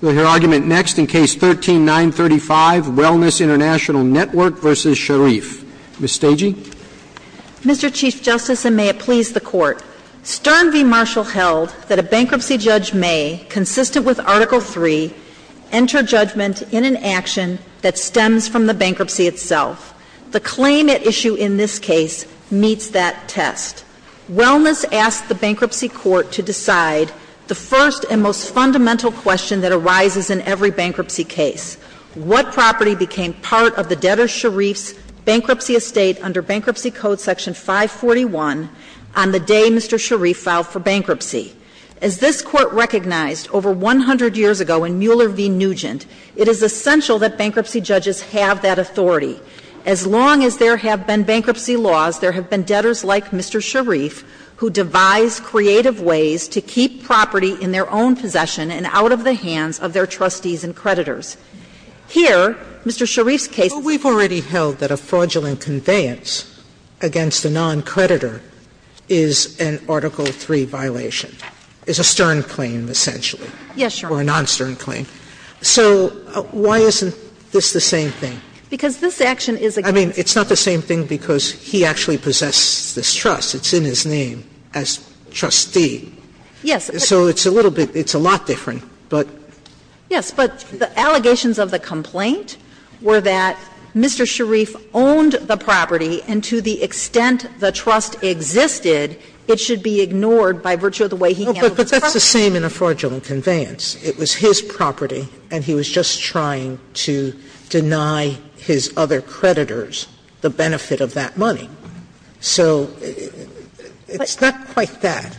We'll hear argument next in Case 13-935, Wellness Int'l Network v. Sharif. Ms. Stagy. Mr. Chief Justice, and may it please the Court, Stern v. Marshall held that a bankruptcy judge may, consistent with Article III, enter judgment in an action that stems from the bankruptcy itself. The claim at issue in this case meets that test. Wellness asked the Bankruptcy Court to decide the first and most fundamental question that arises in every bankruptcy case. What property became part of the debtor Sharif's bankruptcy estate under Bankruptcy Code Section 541 on the day Mr. Sharif filed for bankruptcy? As this Court recognized over 100 years ago in Mueller v. Nugent, it is essential that bankruptcy judges have that authority. As long as there have been bankruptcy laws, there have been debtors like Mr. Sharif who devised creative ways to keep property in their own possession and out of the hands of their trustees and creditors. Here, Mr. Sharif's case is a case of fraudulent conveyance against a non-creditor is an Article III violation. It's a Stern claim, essentially. Yes, Your Honor. Or a non-Stern claim. So why isn't this the same thing? Because this action is against the trustee. I mean, it's not the same thing because he actually possesses this trust. It's in his name as trustee. Yes. So it's a little bit – it's a lot different. Yes, but the allegations of the complaint were that Mr. Sharif owned the property and to the extent the trust existed, it should be ignored by virtue of the way he handled the trustee. But that's the same in a fraudulent conveyance. It was his property, and he was just trying to deny his other creditors the benefit of that money. So it's not quite that.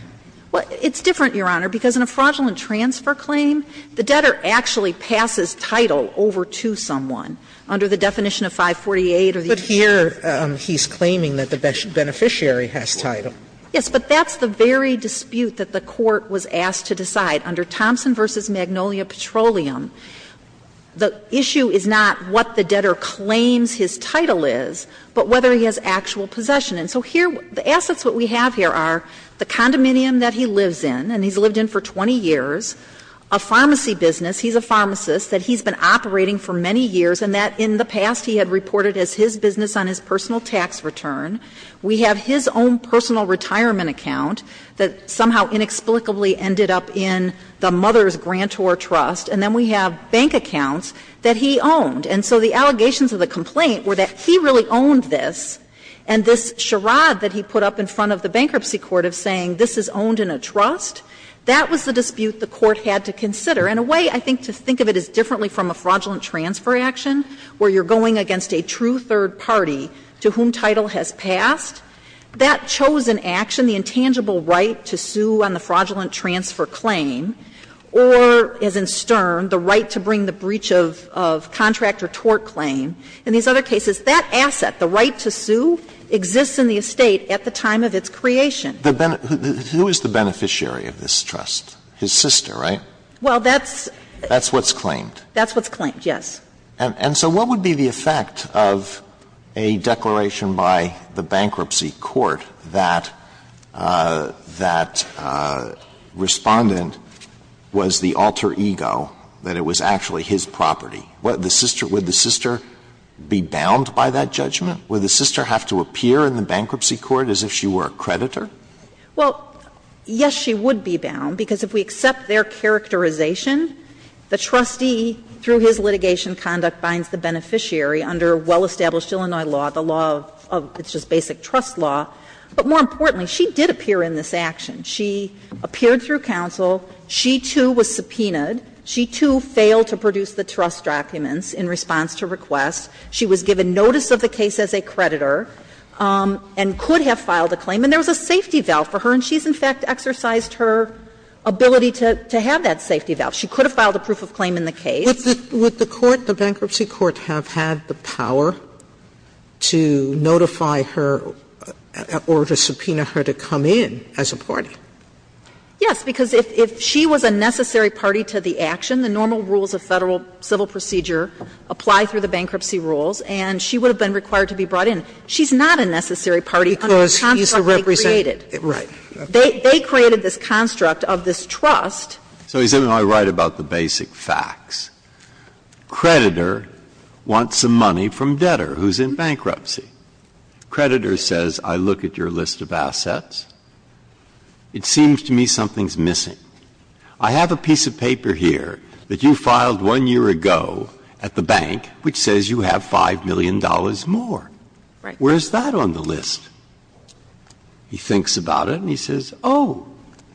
Well, it's different, Your Honor, because in a fraudulent transfer claim, the debtor actually passes title over to someone under the definition of 548 or the U.S. Charter. But here he's claiming that the beneficiary has title. Yes. But that's the very dispute that the Court was asked to decide under Thompson v. Magnolia Petroleum. The issue is not what the debtor claims his title is, but whether he has actual possession. And so here, the assets that we have here are the condominium that he lives in, and he's lived in for 20 years, a pharmacy business. He's a pharmacist that he's been operating for many years, and that in the past he had reported as his business on his personal tax return. We have his own personal retirement account that somehow inexplicably ended up in the mother's grantor trust, and then we have bank accounts that he owned. And so the allegations of the complaint were that he really owned this, and this charade that he put up in front of the bankruptcy court of saying this is owned in a trust, that was the dispute the Court had to consider. In a way, I think to think of it as differently from a fraudulent transfer action where you're going against a true third party to whom title has passed, that chosen action, the intangible right to sue on the fraudulent transfer claim, or as in Stern, the right to bring the breach of contract or tort claim, in these other cases, that asset, the right to sue, exists in the estate at the time of its creation. Alito Who is the beneficiary of this trust? His sister, right? Well, that's That's what's claimed. That's what's claimed, yes. Alito And so what would be the effect of a declaration by the bankruptcy court that that Respondent was the alter ego, that it was actually his property? Would the sister be bound by that judgment? Would the sister have to appear in the bankruptcy court as if she were a creditor? Well, yes, she would be bound, because if we accept their characterization, the trustee, through his litigation conduct, binds the beneficiary under well-established Illinois law, the law of, it's just basic trust law. But more importantly, she did appear in this action. She appeared through counsel. She, too, was subpoenaed. She, too, failed to produce the trust documents in response to requests. She was given notice of the case as a creditor and could have filed a claim. And there was a safety valve for her, and she's, in fact, exercised her ability to have that safety valve. She could have filed a proof of claim in the case. Sotomayor Would the court, the bankruptcy court, have had the power to notify her or to subpoena her to come in as a party? Yes, because if she was a necessary party to the action, the normal rules of Federal civil procedure apply through the bankruptcy rules, and she would have been required to be brought in. She's not a necessary party under the construct they created. Right. They created this construct of this trust. Breyer So he's going to write about the basic facts. Creditor wants some money from debtor who's in bankruptcy. Creditor says, I look at your list of assets. It seems to me something's missing. I have a piece of paper here that you filed one year ago at the bank which says you have $5 million more. Where is that on the list? He thinks about it and he says, oh,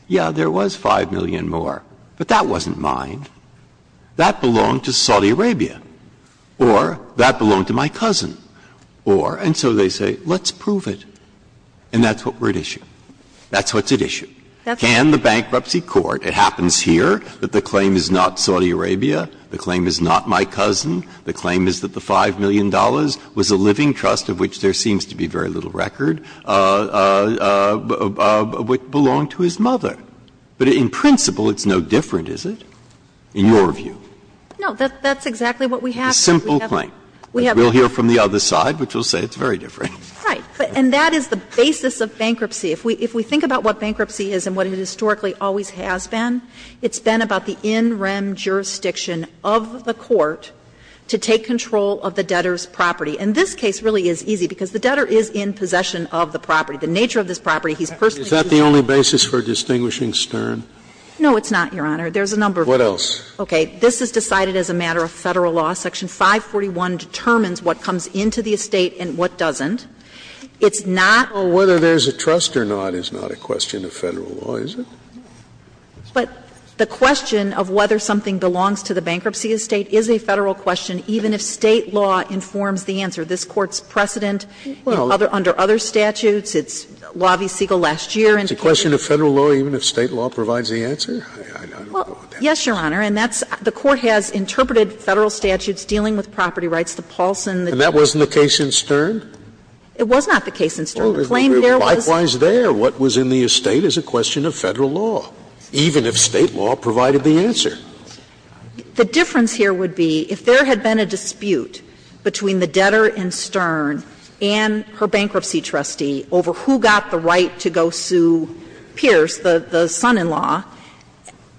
yeah, there was $5 million more. But that wasn't mine. That belonged to Saudi Arabia. Or that belonged to my cousin. Or, and so they say, let's prove it. And that's what we're at issue. That's what's at issue. Can the bankruptcy court, it happens here that the claim is not Saudi Arabia, the claim is not my cousin, the claim is that the $5 million was a living trust of which there seems to be very little record, which belonged to his mother. But in principle, it's no different, is it, in your view? No. That's exactly what we have. A simple claim. We'll hear from the other side, which will say it's very different. Right. And that is the basis of bankruptcy. If we think about what bankruptcy is and what it historically always has been, it's been about the in rem jurisdiction of the court to take control of the debtor's property. And this case really is easy because the debtor is in possession of the property. The nature of this property, he's personally using it. Is that the only basis for distinguishing Stern? No, it's not, Your Honor. There's a number of reasons. What else? Okay. This is decided as a matter of Federal law. Section 541 determines what comes into the estate and what doesn't. It's not. Well, whether there's a trust or not is not a question of Federal law, is it? But the question of whether something belongs to the bankruptcy estate is a Federal question, even if State law informs the answer. This Court's precedent under other statutes. It's Law v. Siegel last year. It's a question of Federal law even if State law provides the answer? Well, yes, Your Honor. And that's the Court has interpreted Federal statutes dealing with property rights, the Paulson. And that wasn't the case in Stern? It was not the case in Stern. The claim there was. Well, isn't it likewise there? What was in the estate is a question of Federal law, even if State law provided the answer. The difference here would be if there had been a dispute between the debtor in Stern and her bankruptcy trustee over who got the right to go sue Pierce, the son-in-law,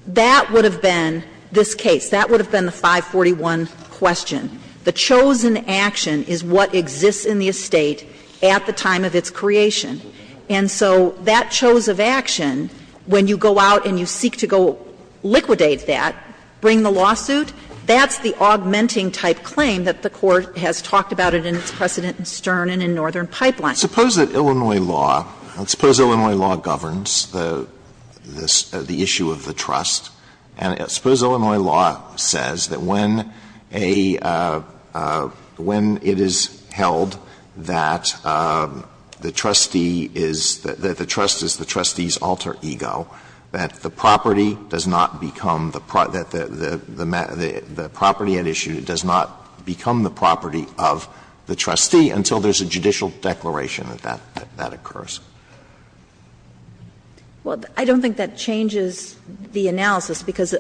that would have been this case. That would have been the 541 question. The chosen action is what exists in the estate at the time of its creation. And so that chose of action, when you go out and you seek to go liquidate that, bring the lawsuit, that's the augmenting-type claim that the Court has talked about it in its precedent in Stern and in Northern Pipeline. Suppose that Illinois law, suppose Illinois law governs the issue of the trust. And suppose Illinois law says that when it is held that the trustee is, that the trust is the trustee's alter ego, that the property does not become the property at issue, it does not become the property of the trustee until there is a judicial declaration that that occurs. Well, I don't think that changes the analysis, because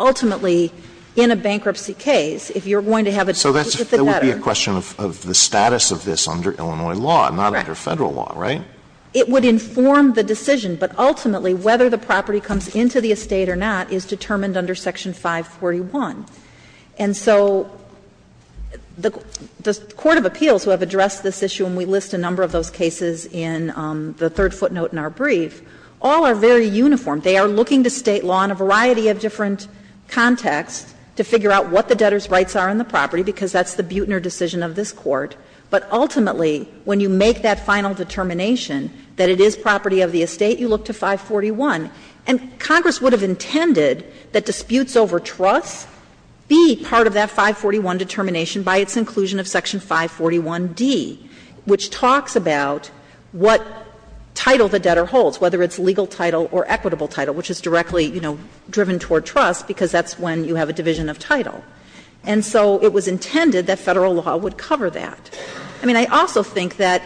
ultimately in a bankruptcy case, if you are going to have a dispute with the debtor. So that would be a question of the status of this under Illinois law, not under Federal law, right? It would inform the decision, but ultimately whether the property comes into the estate or not is determined under Section 541. And so the court of appeals who have addressed this issue, and we list a number of those cases in the third footnote in our brief, all are very uniform. They are looking to State law in a variety of different contexts to figure out what the debtor's rights are on the property, because that's the Buetner decision of this Court. But ultimately, when you make that final determination that it is property of the estate, you look to 541. And Congress would have intended that disputes over trust be part of that 541 determination by its inclusion of Section 541d, which talks about what title the debtor holds, whether it's legal title or equitable title, which is directly, you know, driven toward trust, because that's when you have a division of title. And so it was intended that Federal law would cover that. I mean, I also think that,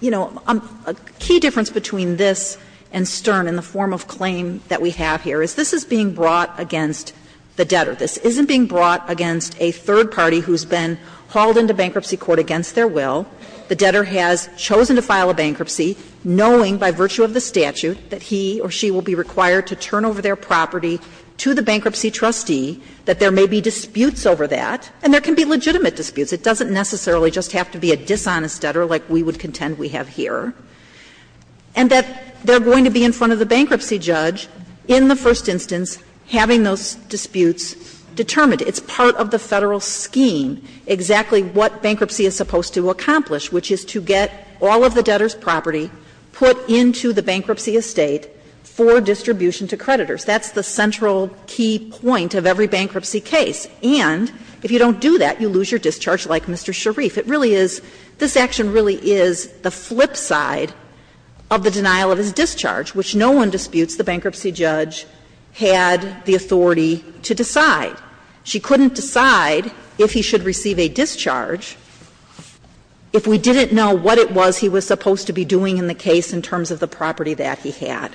you know, a key difference between this and Stern in the form of claim that we have here is this is being brought against the debtor. This isn't being brought against a third party who's been hauled into bankruptcy court against their will. The debtor has chosen to file a bankruptcy knowing by virtue of the statute that he or she will be required to turn over their property to the bankruptcy trustee, that there may be disputes over that, and there can be legitimate disputes. It doesn't necessarily just have to be a dishonest debtor like we would contend we have here. And that they're going to be in front of the bankruptcy judge in the first instance having those disputes determined. It's part of the Federal scheme exactly what bankruptcy is supposed to accomplish, which is to get all of the debtor's property put into the bankruptcy estate for distribution to creditors. That's the central key point of every bankruptcy case. And if you don't do that, you lose your discharge like Mr. Sharif. It really is, this action really is the flip side of the denial of his discharge, which no one disputes the bankruptcy judge had the authority to decide. She couldn't decide if he should receive a discharge if we didn't know what it was he was supposed to be doing in the case in terms of the property that he had.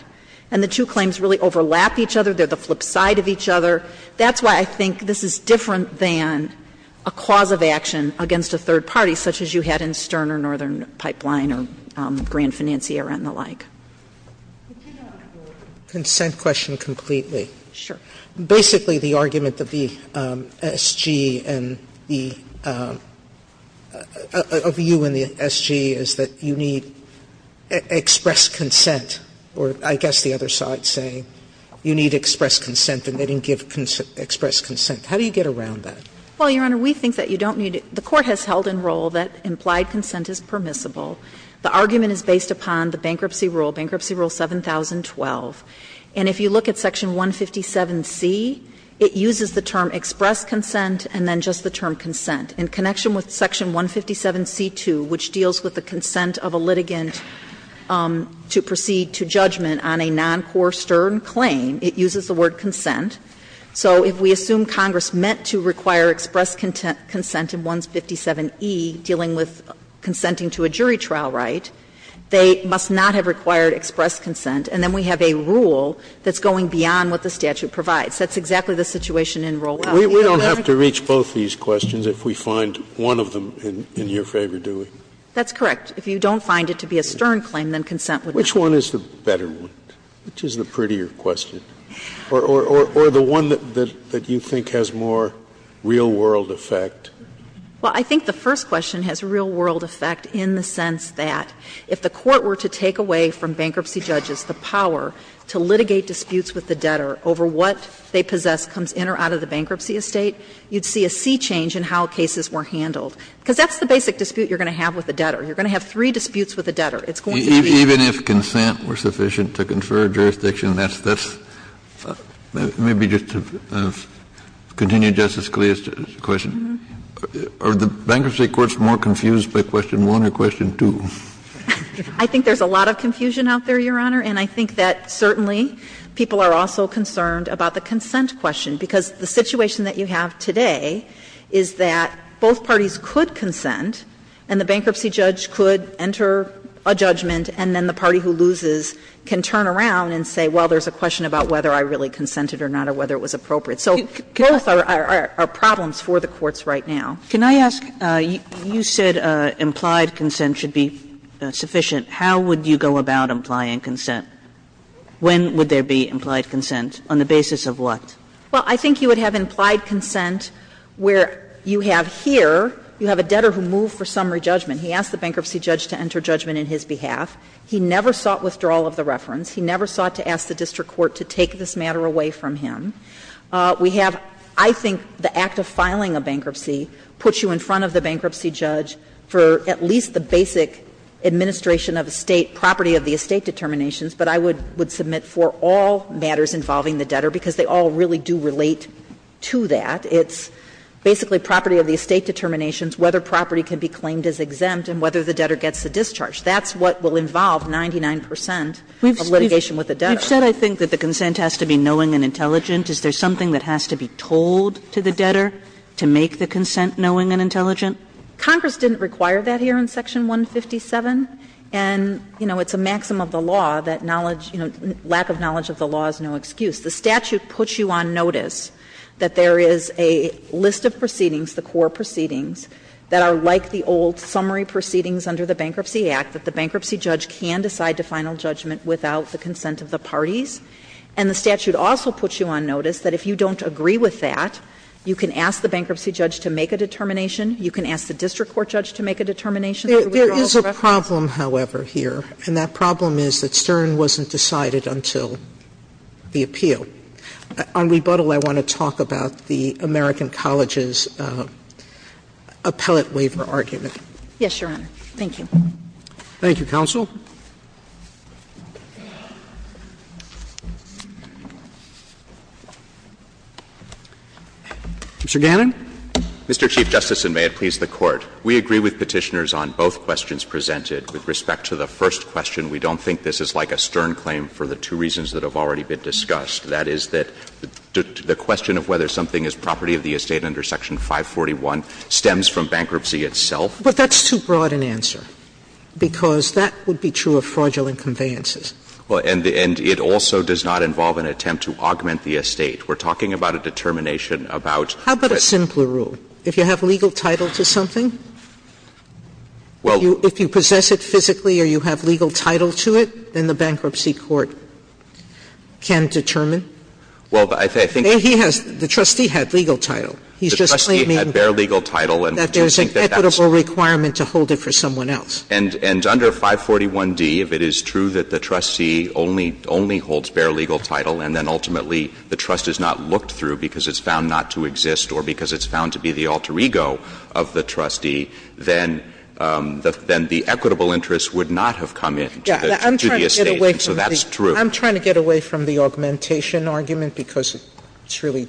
And the two claims really overlap each other. They're the flip side of each other. So that's why I think this is different than a cause of action against a third party such as you had in Stern or Northern Pipeline or Grand Financiera and the like. Sotomayor, consent question completely. Sure. Basically, the argument of the SG and the of you and the SG is that you need express consent, or I guess the other side's saying you need express consent and they didn't give express consent. How do you get around that? Well, Your Honor, we think that you don't need to the court has held in roll that implied consent is permissible. The argument is based upon the bankruptcy rule, Bankruptcy Rule 7012. And if you look at Section 157C, it uses the term express consent and then just the term consent. In connection with Section 157C2, which deals with the consent of a litigant to proceed to judgment on a non-core Stern claim, it uses the word consent. So if we assume Congress meant to require express consent in 157E, dealing with consenting to a jury trial right, they must not have required express consent, and then we have a rule that's going beyond what the statute provides. That's exactly the situation in roll out. Scalia, we don't have to reach both these questions if we find one of them in your favor, do we? That's correct. If you don't find it to be a Stern claim, then consent would not be. Which one is the better one? Which is the prettier question? Or the one that you think has more real-world effect? Well, I think the first question has real-world effect in the sense that if the court were to take away from bankruptcy judges the power to litigate disputes with the debtor over what they possess comes in or out of the bankruptcy estate, you'd see a sea change in how cases were handled. Because that's the basic dispute you're going to have with a debtor. You're going to have three disputes with a debtor. It's going to be a sea change. Even if consent were sufficient to confer jurisdiction, that's the question. Are the bankruptcy courts more confused by question 1 or question 2? I think there's a lot of confusion out there, Your Honor. And I think that certainly people are also concerned about the consent question, because the situation that you have today is that both parties could consent and the party who loses can turn around and say, well, there's a question about whether I really consented or not or whether it was appropriate. So both are problems for the courts right now. Can I ask, you said implied consent should be sufficient. How would you go about implying consent? When would there be implied consent? On the basis of what? Well, I think you would have implied consent where you have here, you have a debtor who moved for summary judgment. He asked the bankruptcy judge to enter judgment in his behalf. He never sought withdrawal of the reference. He never sought to ask the district court to take this matter away from him. We have, I think, the act of filing a bankruptcy puts you in front of the bankruptcy judge for at least the basic administration of estate, property of the estate determinations, but I would submit for all matters involving the debtor, because they all really do relate to that. It's basically property of the estate determinations, whether property can be claimed as exempt, and whether the debtor gets the discharge. That's what will involve 99 percent of litigation with the debtor. You've said, I think, that the consent has to be knowing and intelligent. Is there something that has to be told to the debtor to make the consent knowing and intelligent? Congress didn't require that here in Section 157, and, you know, it's a maxim of the law that knowledge, you know, lack of knowledge of the law is no excuse. The statute puts you on notice that there is a list of proceedings, the core proceedings, that are like the old summary proceedings under the Bankruptcy Act, that the bankruptcy judge can decide to final judgment without the consent of the parties, and the statute also puts you on notice that if you don't agree with that, you can ask the bankruptcy judge to make a determination, you can ask the district court judge to make a determination. Sotomayor There is a problem, however, here, and that problem is that Stern wasn't decided until the appeal. On rebuttal, I want to talk about the American Colleges' appellate waiver argument. Yes, Your Honor. Thank you. Roberts Thank you, counsel. Mr. Gannon. Mr. Chief Justice, and may it please the Court. We agree with Petitioners on both questions presented. With respect to the first question, we don't think this is like a Stern claim for the two reasons that have already been discussed. That is that the question of whether something is property of the estate under Section 541 stems from bankruptcy itself. Sotomayor But that's too broad an answer, because that would be true of fraudulent conveyances. Mr. Gannon Well, and it also does not involve an attempt to augment the estate. We're talking about a determination about the estate. Sotomayor How about a simpler rule? If you have legal title to something, if you possess it physically or you have legal title to it, then the bankruptcy court can determine? Mr. Gannon Well, I think that's the case. Sotomayor The trustee had legal title. He's just claiming that there's an equitable requirement to hold it for someone else. Mr. Gannon And under 541d, if it is true that the trustee only holds bare legal title and then ultimately the trust is not looked through because it's found not to exist or because it's found to be the alter ego of the trustee, then the equitable interest would not have come into the estate, and so that's true. Sotomayor I'm trying to get away from the augmentation argument, because it's really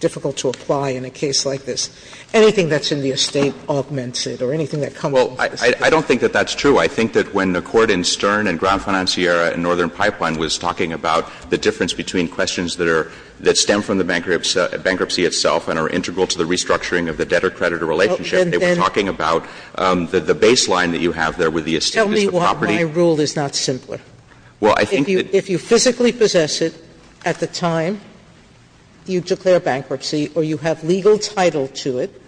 difficult to apply in a case like this. Anything that's in the estate augments it, or anything that comes off the estate. Mr. Gannon Well, I don't think that that's true. I think that when the Court in Stern and Grand Financiera and Northern Pipeline was talking about the difference between questions that are — that stem from the bankruptcy itself and are integral to the restructuring of the debtor-creditor relationship, they were talking about the baseline that you have there with the estate as the property. Sotomayor Tell me why my rule is not simpler. If you physically possess it at the time you declare bankruptcy, or you have legal title to it,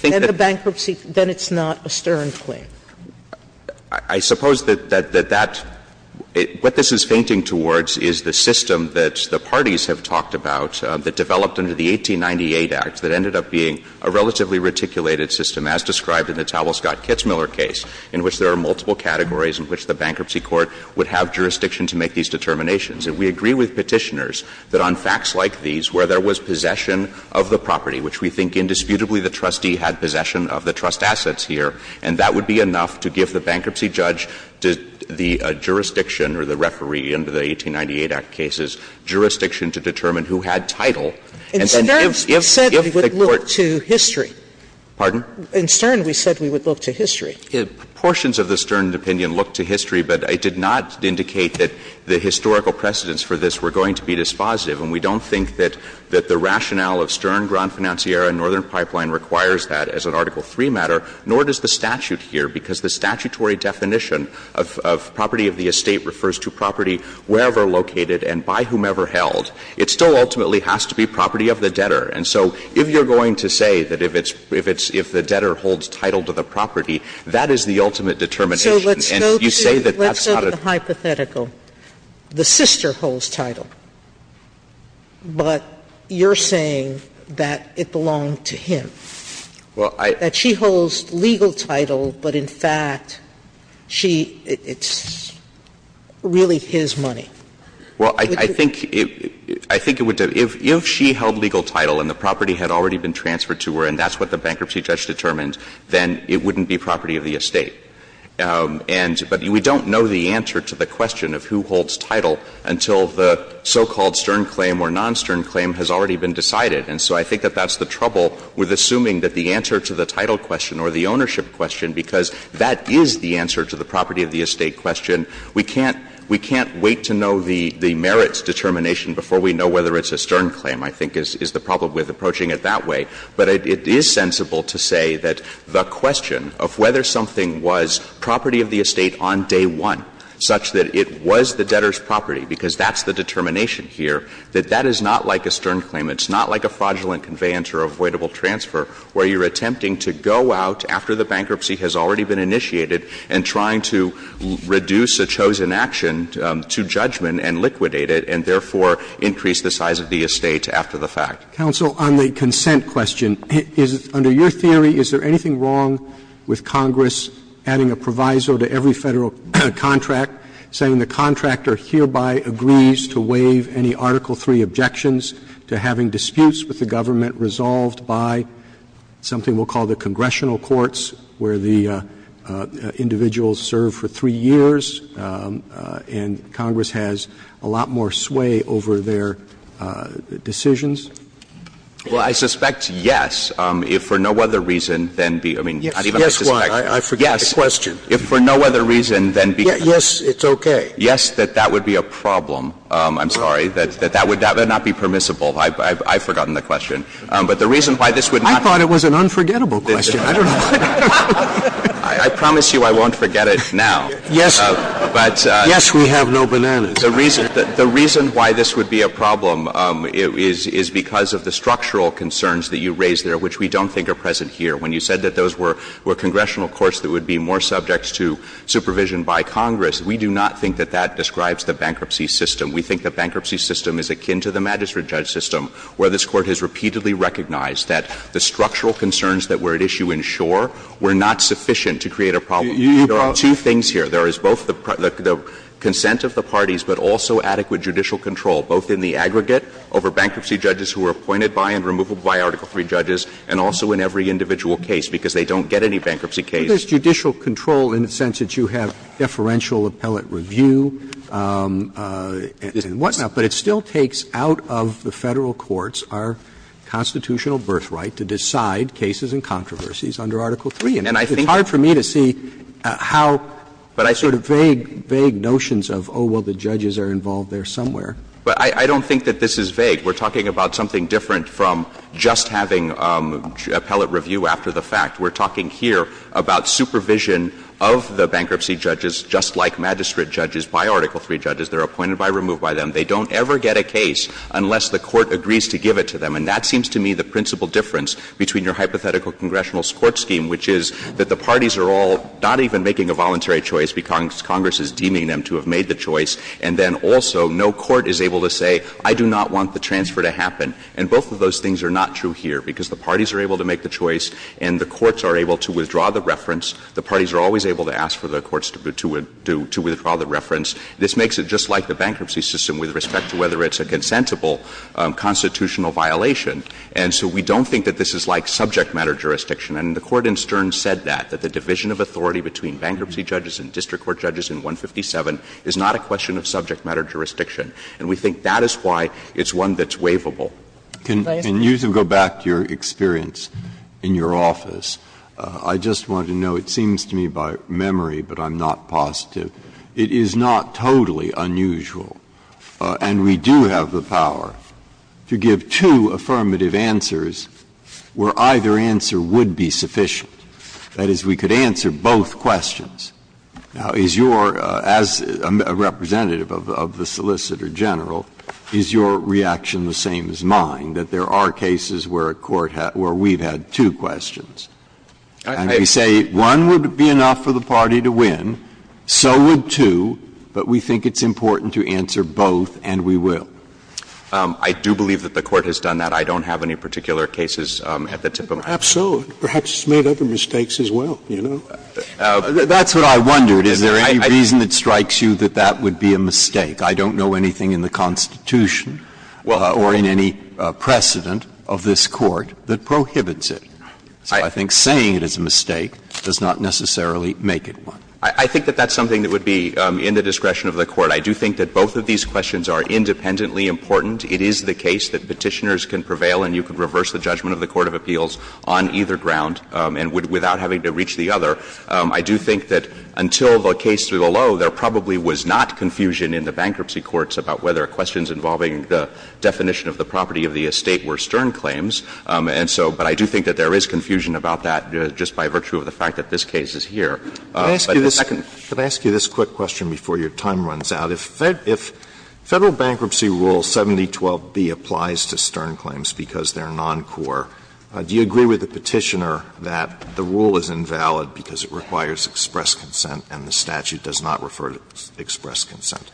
then the bankruptcy — then it's not a Stern claim. Mr. Gannon I suppose that that — what this is fainting towards is the system that the parties have talked about that developed under the 1898 Act that ended up being a relatively reticulated system, as described in the And we agree with Petitioners that on facts like these, where there was possession of the property, which we think indisputably the trustee had possession of the trust assets here, and that would be enough to give the bankruptcy judge the jurisdiction or the referee under the 1898 Act cases, jurisdiction to determine who had title. And then if the Court — Sotomayor In Stern we said we would look to history. Mr. Gannon Pardon? Sotomayor In Stern we said we would look to history. Mr. Gannon Portions of the Stern opinion looked to history, but it did not indicate that the historical precedents for this were going to be dispositive. And we don't think that the rationale of Stern, Grand Financiera, and Northern Pipeline requires that as an Article III matter, nor does the statute here, because the statutory definition of property of the estate refers to property wherever located and by whomever held. It still ultimately has to be property of the debtor. And so if you're going to say that if it's — if the debtor holds title to the property, that is the ultimate determination. And you say that that's not a — Sotomayor So let's go to the hypothetical. The sister holds title, but you're saying that it belonged to him. That she holds legal title, but in fact, she — it's really his money. Mr. Gannon Well, I think — I think it would — if she held legal title and the property had already been transferred to her and that's what the bankruptcy judge determined, then it wouldn't be property of the estate. And — but we don't know the answer to the question of who holds title until the so-called Stern claim or non-Stern claim has already been decided. And so I think that that's the trouble with assuming that the answer to the title question or the ownership question, because that is the answer to the property of the estate question. We can't — we can't wait to know the — the merits determination before we know whether it's a Stern claim, I think, is the problem with approaching it that way. But it is sensible to say that the question of whether something was property of the estate on day one, such that it was the debtor's property, because that's the determination here, that that is not like a Stern claim. It's not like a fraudulent conveyance or avoidable transfer where you're attempting to go out after the bankruptcy has already been initiated and trying to reduce a chosen action to judgment and liquidate it and therefore increase the size of the estate after the fact. Roberts, counsel, on the consent question. Is — under your theory, is there anything wrong with Congress adding a proviso to every Federal contract saying the contractor hereby agrees to waive any Article III objections to having disputes with the government resolved by something we'll call the congressional courts where the individuals serve for three years and Congress has a lot more sway over their decisions? Well, I suspect, yes, if for no other reason than be — I mean, not even I suspect. Yes, why? I forgot the question. Yes, if for no other reason than be — Yes, it's okay. Yes, that that would be a problem. I'm sorry, that that would — that would not be permissible. I've forgotten the question. But the reason why this would not be permissible — I thought it was an unforgettable question. I don't know why. I promise you I won't forget it now. Yes. But — Yes, we have no bananas. The reason — the reason why this would be a problem is because of the structural concerns that you raised there, which we don't think are present here. When you said that those were congressional courts that would be more subject to supervision by Congress, we do not think that that describes the bankruptcy system. We think the bankruptcy system is akin to the magistrate judge system, where this Court has repeatedly recognized that the structural concerns that were at issue in Shore were not sufficient to create a problem. There are two things here. There is both the consent of the parties, but also adequate judicial control, both in the aggregate over bankruptcy judges who were appointed by and removed by Article III judges, and also in every individual case, because they don't get any bankruptcy cases. Roberts. Judicial control in the sense that you have deferential appellate review and whatnot, but it still takes out of the Federal courts our constitutional birthright to decide cases and controversies under Article III. And it's hard for me to see how sort of vague, vague notions of, oh, well, the judges are involved there somewhere. But I don't think that this is vague. We're talking about something different from just having appellate review after the fact. We're talking here about supervision of the bankruptcy judges, just like magistrate judges, by Article III judges. They're appointed by, removed by them. They don't ever get a case unless the Court agrees to give it to them. And that seems to me the principal difference between your hypothetical congressional court scheme, which is that the parties are all not even making a voluntary choice because Congress is deeming them to have made the choice, and then also no court is able to say, I do not want the transfer to happen. And both of those things are not true here, because the parties are able to make the choice and the courts are able to withdraw the reference. The parties are always able to ask for the courts to withdraw the reference. This makes it just like the bankruptcy system with respect to whether it's a consentable constitutional violation. And so we don't think that this is like subject matter jurisdiction. And the Court in Stern said that, that the division of authority between bankruptcy judges and district court judges in 157 is not a question of subject matter jurisdiction. And we think that is why it's one that's waivable. Breyer. Can you go back to your experience in your office? I just want to know, it seems to me by memory, but I'm not positive, it is not totally unusual, and we do have the power to give two affirmative answers where either answer would be sufficient. That is, we could answer both questions. Now, is your as a representative of the Solicitor General, is your reaction the same as mine, that there are cases where a court, where we've had two questions? And we say one would be enough for the party to win, so would two, but we think it's important to answer both, and we will? I do believe that the Court has done that. I don't have any particular cases at the tip of my tongue. Perhaps so. Perhaps it's made other mistakes as well, you know. That's what I wondered. Is there any reason that strikes you that that would be a mistake? I don't know anything in the Constitution or in any precedent of this Court that prohibits it. So I think saying it is a mistake does not necessarily make it one. I think that that's something that would be in the discretion of the Court. I do think that both of these questions are independently important. It is the case that Petitioners can prevail and you can reverse the judgment of the court of appeals on either ground and without having to reach the other. I do think that until the case to the low, there probably was not confusion in the bankruptcy courts about whether questions involving the definition of the property of the estate were stern claims. And so, but I do think that there is confusion about that just by virtue of the fact that this case is here. But the second question. Alitoson Can I ask you this quick question before your time runs out? If Federal Bankruptcy Rule 7012B applies to stern claims because they are noncore, do you agree with the Petitioner that the rule is invalid because it requires express consent and the statute does not refer to express consent?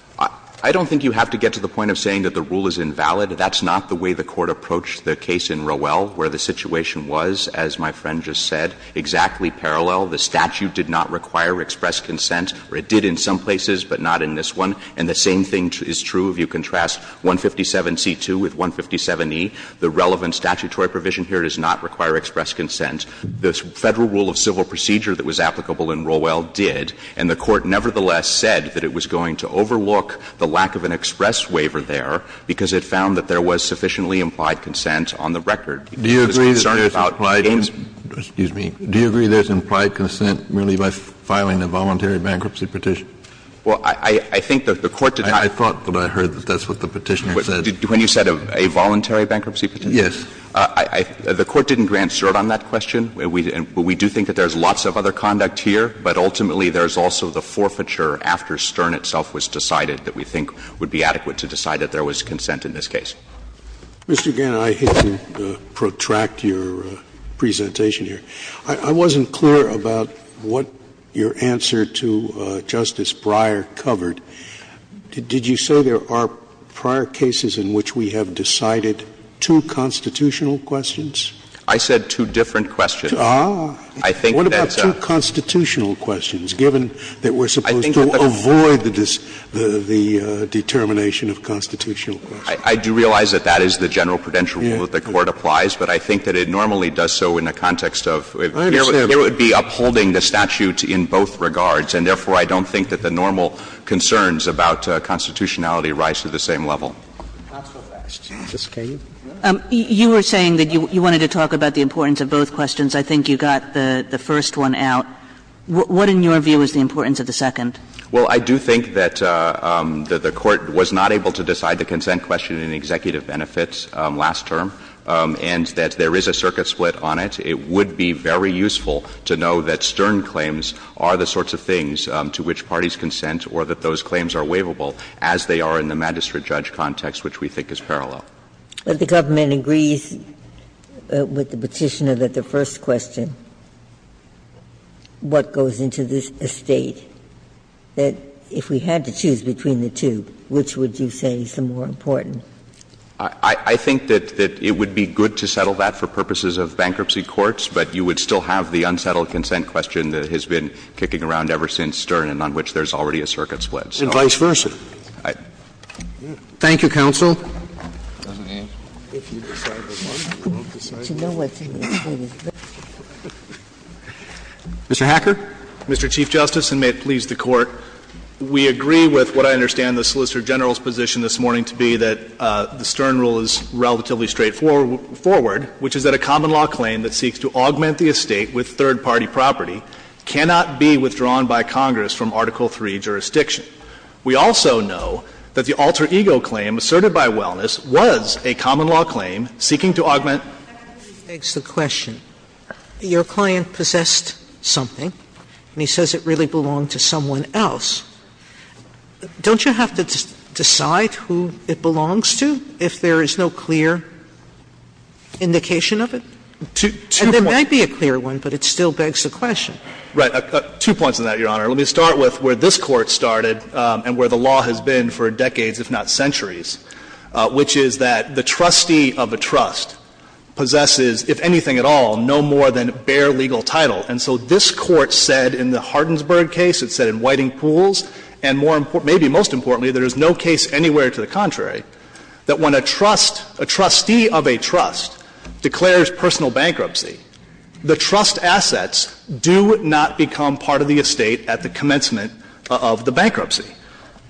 I don't think you have to get to the point of saying that the rule is invalid. That's not the way the Court approached the case in Rowell where the situation was, as my friend just said, exactly parallel. The statute did not require express consent, or it did in some places, but not in this one. And the same thing is true if you contrast 157C2 with 157E. The relevant statutory provision here does not require express consent. The Federal rule of civil procedure that was applicable in Rowell did, and the Court nevertheless said that it was going to overlook the lack of an express waiver there Kennedy Do you agree there's implied consent merely by filing a voluntary bankruptcy petition? Well, I think that the Court did not I thought that I heard that that's what the Petitioner said. When you said a voluntary bankruptcy petition? Yes. The Court didn't grant cert on that question. We do think that there's lots of other conduct here, but ultimately there's also the forfeiture after stern itself was decided that we think would be adequate to decide that there was consent in this case. Mr. Gannon, I hate to protract your presentation here. I wasn't clear about what your answer to Justice Breyer covered. Did you say there are prior cases in which we have decided two constitutional questions? I said two different questions. Ah. I think that's a What about two constitutional questions, given that we're supposed to avoid the determination of constitutional questions? I do realize that that is the general prudential rule that the Court applies, but I think that it normally does so in the context of I understand. It would be upholding the statute in both regards, and therefore I don't think that the normal concerns about constitutionality rise to the same level. Counselor, may I ask Justice Kagan? You were saying that you wanted to talk about the importance of both questions. I think you got the first one out. What in your view is the importance of the second? Well, I do think that the Court was not able to decide the consent question in the executive benefits last term, and that there is a circuit split on it. It would be very useful to know that Stern claims are the sorts of things to which parties consent or that those claims are waivable, as they are in the magistrate judge context, which we think is parallel. But the government agrees with the Petitioner that the first question, what goes into this estate, that if we had to choose between the two, which would you say is the more important? I think that it would be good to settle that for purposes of bankruptcy courts, but you would still have the unsettled consent question that has been kicking around ever since Stern and on which there is already a circuit split. And vice versa. Thank you, counsel. Mr. Hacker. Mr. Chief Justice, and may it please the Court, we agree with what I understand the Solicitor General's position this morning to be that the Stern rule is relatively straightforward, which is that a common law claim that seeks to augment the estate with third-party property cannot be withdrawn by Congress from Article III jurisdiction. We also know that the alter ego claim asserted by Wellness was a common law claim seeking to augment. Sotomayor, your client possessed something, and he says it really belonged to someone else. Don't you have to decide who it belongs to if there is no clear indication of it? And there might be a clear one, but it still begs the question. Right. Two points on that, Your Honor. Let me start with where this Court started and where the law has been for decades, if not centuries, which is that the trustee of a trust possesses, if anything at all, no more than bare legal title. And so this Court said in the Hardinsburg case, it said in Whiting Pools, and more important, maybe most importantly, there is no case anywhere to the contrary, that when a trust, a trustee of a trust declares personal bankruptcy, the trust assets do not become part of the estate at the commencement of the bankruptcy.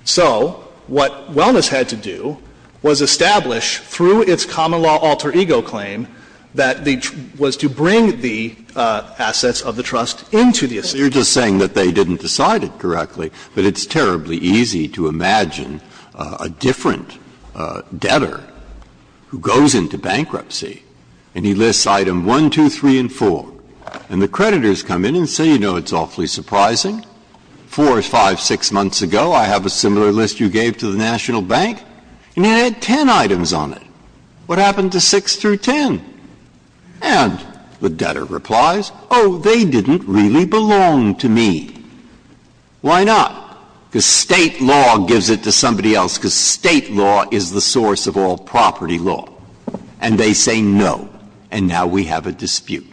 So what Wellness had to do was establish, through its common law alter ego claim, that the trust was to bring the assets of the trust into the estate. Breyer, you are just saying that they didn't decide it correctly, but it's terribly easy to imagine a different debtor who goes into bankruptcy and he lists item 1, 2, 3, and 4. And the creditors come in and say, you know, it's awfully surprising. Four, five, six months ago, I have a similar list you gave to the National Bank, and it had 10 items on it. What happened to 6 through 10? And the debtor replies, oh, they didn't really belong to me. Why not? Because State law gives it to somebody else, because State law is the source of all property law. And they say no, and now we have a dispute.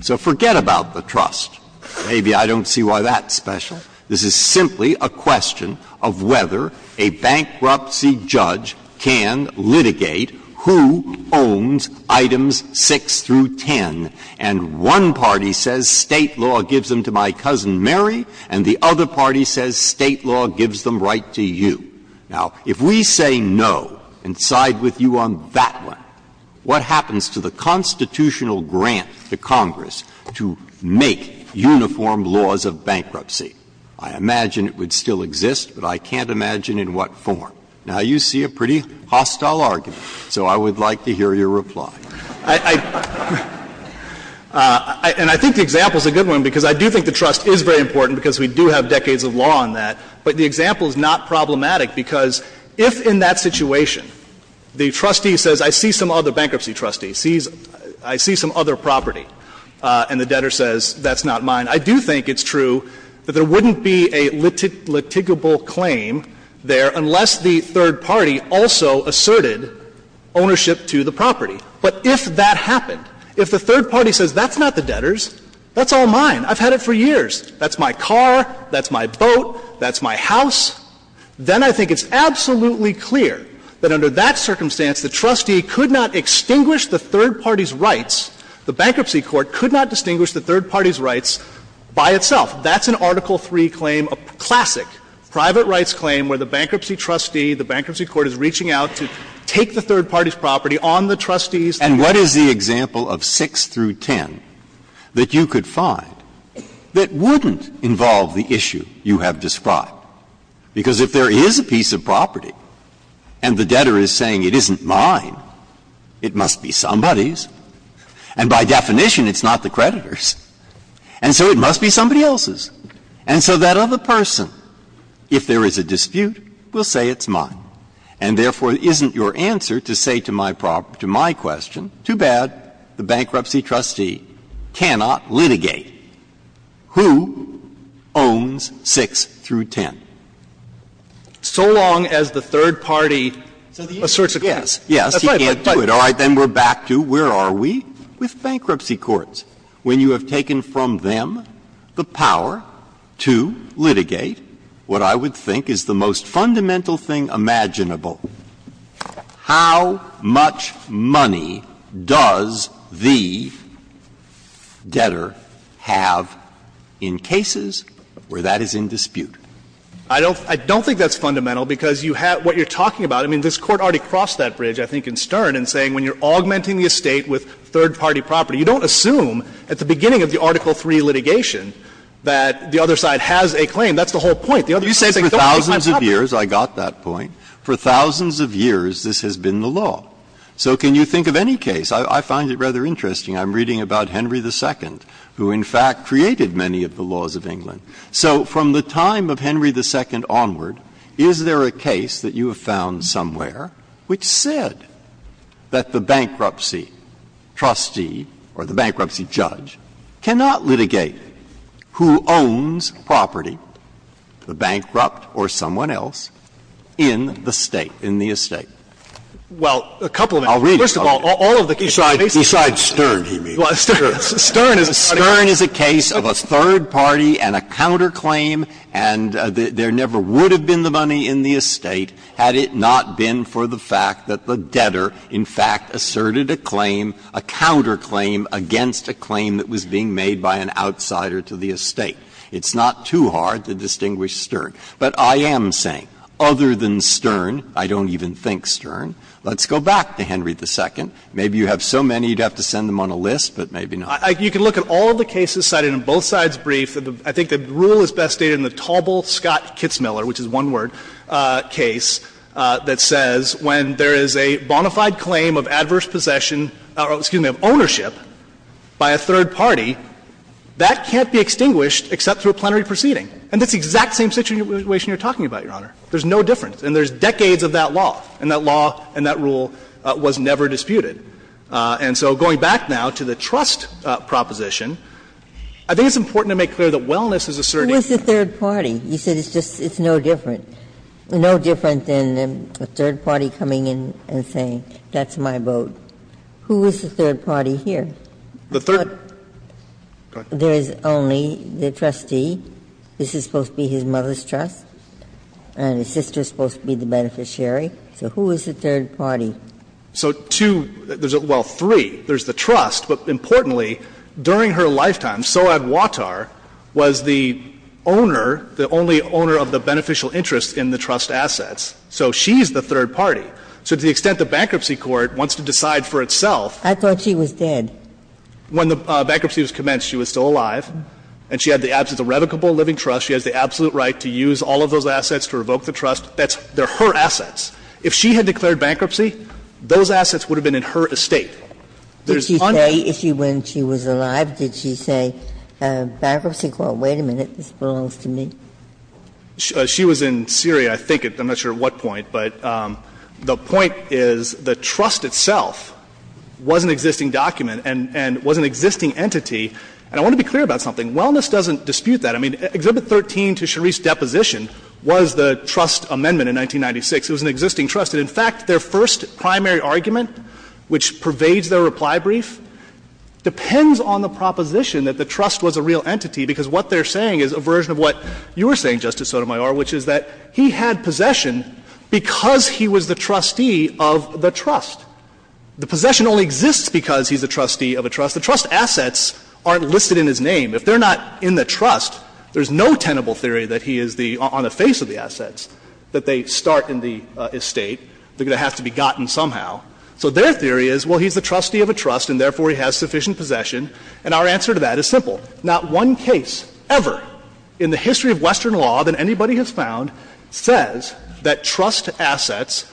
So forget about the trust. Maybe I don't see why that's special. This is simply a question of whether a bankruptcy judge can litigate who owns items 6 through 10. And one party says State law gives them to my cousin Mary, and the other party says State law gives them right to you. Now, if we say no and side with you on that one, what happens to the constitutional grant to Congress to make uniform laws of bankruptcy? I imagine it would still exist, but I can't imagine in what form. Now, you see a pretty hostile argument, so I would like to hear your reply. And I think the example is a good one, because I do think the trust is very important, because we do have decades of law on that. But the example is not problematic, because if, in that situation, the trustee says I see some other bankruptcy trustee, I see some other property, and the debtor says that's not mine, I do think it's true that there wouldn't be a litigable claim there unless the third party also asserted ownership to the property. But if that happened, if the third party says that's not the debtor's, that's all mine, I've had it for years, that's my car, that's my boat, that's my house, then I think it's absolutely clear that under that circumstance, the trustee could not extinguish the third party's rights, the bankruptcy court could not distinguish the third party's rights by itself. That's an Article III claim, a classic private rights claim where the bankruptcy trustee, the bankruptcy court is reaching out to take the third party's property on the trustee's claim. And what is the example of 6 through 10 that you could find that wouldn't involve the issue you have described? Because if there is a piece of property and the debtor is saying it isn't mine, it must be somebody's, and by definition, it's not the creditor's, and so it must be somebody else's. And so that other person, if there is a dispute, will say it's mine. And therefore, it isn't your answer to say to my question, too bad, the bankruptcy trustee cannot litigate, who owns 6 through 10? So long as the third party asserts a claim. Yes, yes, he can't do it. All right, then we're back to where are we with bankruptcy courts? When you have taken from them the power to litigate, what I would think is the most common claim that you and the debtor have in cases where that is in dispute. I don't think that's fundamental, because you have what you're talking about. I mean, this Court already crossed that bridge, I think, in Stern, in saying when you're augmenting the estate with third party property, you don't assume at the beginning of the Article III litigation that the other side has a claim. That's the whole point. The other side is saying, don't take my property. You say for thousands of years, I got that point, for thousands of years, this has been the law. So can you think of any case – I find it rather interesting, I'm reading about Henry II, who, in fact, created many of the laws of England. So from the time of Henry II onward, is there a case that you have found somewhere which said that the bankruptcy trustee or the bankruptcy judge cannot litigate who owns property, the bankrupt or someone else, in the state, in the estate? Well, a couple of them. First of all, all of the cases are basically the same. Breyer. Besides Stern, he means. Stern is a case of a third party and a counterclaim, and there never would have been the money in the estate had it not been for the fact that the debtor, in fact, asserted a claim, a counterclaim against a claim that was being made by an outsider to the estate. It's not too hard to distinguish Stern. But I am saying, other than Stern, I don't even think Stern. Let's go back to Henry II. Maybe you have so many you'd have to send them on a list, but maybe not. You can look at all the cases cited in both sides' brief. I think the rule is best stated in the Taubel-Scott-Kitzmiller, which is one-word case, that says when there is a bona fide claim of adverse possession or, excuse me, of ownership by a third party, that can't be extinguished except through a plenary proceeding. And that's the exact same situation you're talking about, Your Honor. There's no difference. And there's decades of that law, and that law and that rule was never disputed. And so going back now to the trust proposition, I think it's important to make clear that wellness is a certain issue. Ginsburg. Who is the third party? You said it's just, it's no different, no different than a third party coming in and saying, that's my vote. Who is the third party here? The third. There is only the trustee. This is supposed to be his mother's trust, and his sister is supposed to be the beneficiary. So who is the third party? So two, well, three. There's the trust, but importantly, during her lifetime, Sohab Wattar was the owner, the only owner of the beneficial interest in the trust assets. So she's the third party. So to the extent the bankruptcy court wants to decide for itself. I thought she was dead. When the bankruptcy was commenced, she was still alive, and she had the absence of revocable living trust. She has the absolute right to use all of those assets to revoke the trust. That's, they're her assets. If she had declared bankruptcy, those assets would have been in her estate. There's uncertainty. Ginsburg. Did she say, when she was alive, did she say, bankruptcy court, wait a minute, this belongs to me? She was in Syria, I think, I'm not sure at what point, but the point is the trust itself was an existing document and was an existing entity. And I want to be clear about something. Wellness doesn't dispute that. I mean, Exhibit 13 to Sheriff's deposition was the trust amendment in 1996. It was an existing trust. And in fact, their first primary argument, which pervades their reply brief, depends on the proposition that the trust was a real entity, because what they're saying is a version of what you were saying, Justice Sotomayor, which is that he had possession because he was the trustee of the trust. The possession only exists because he's a trustee of a trust. The trust assets aren't listed in his name. If they're not in the trust, there's no tenable theory that he is the, on the face of the assets, that they start in the estate. They're going to have to be gotten somehow. So their theory is, well, he's the trustee of a trust, and therefore he has sufficient possession. And our answer to that is simple. Not one case ever in the history of Western law that anybody has found says that trust assets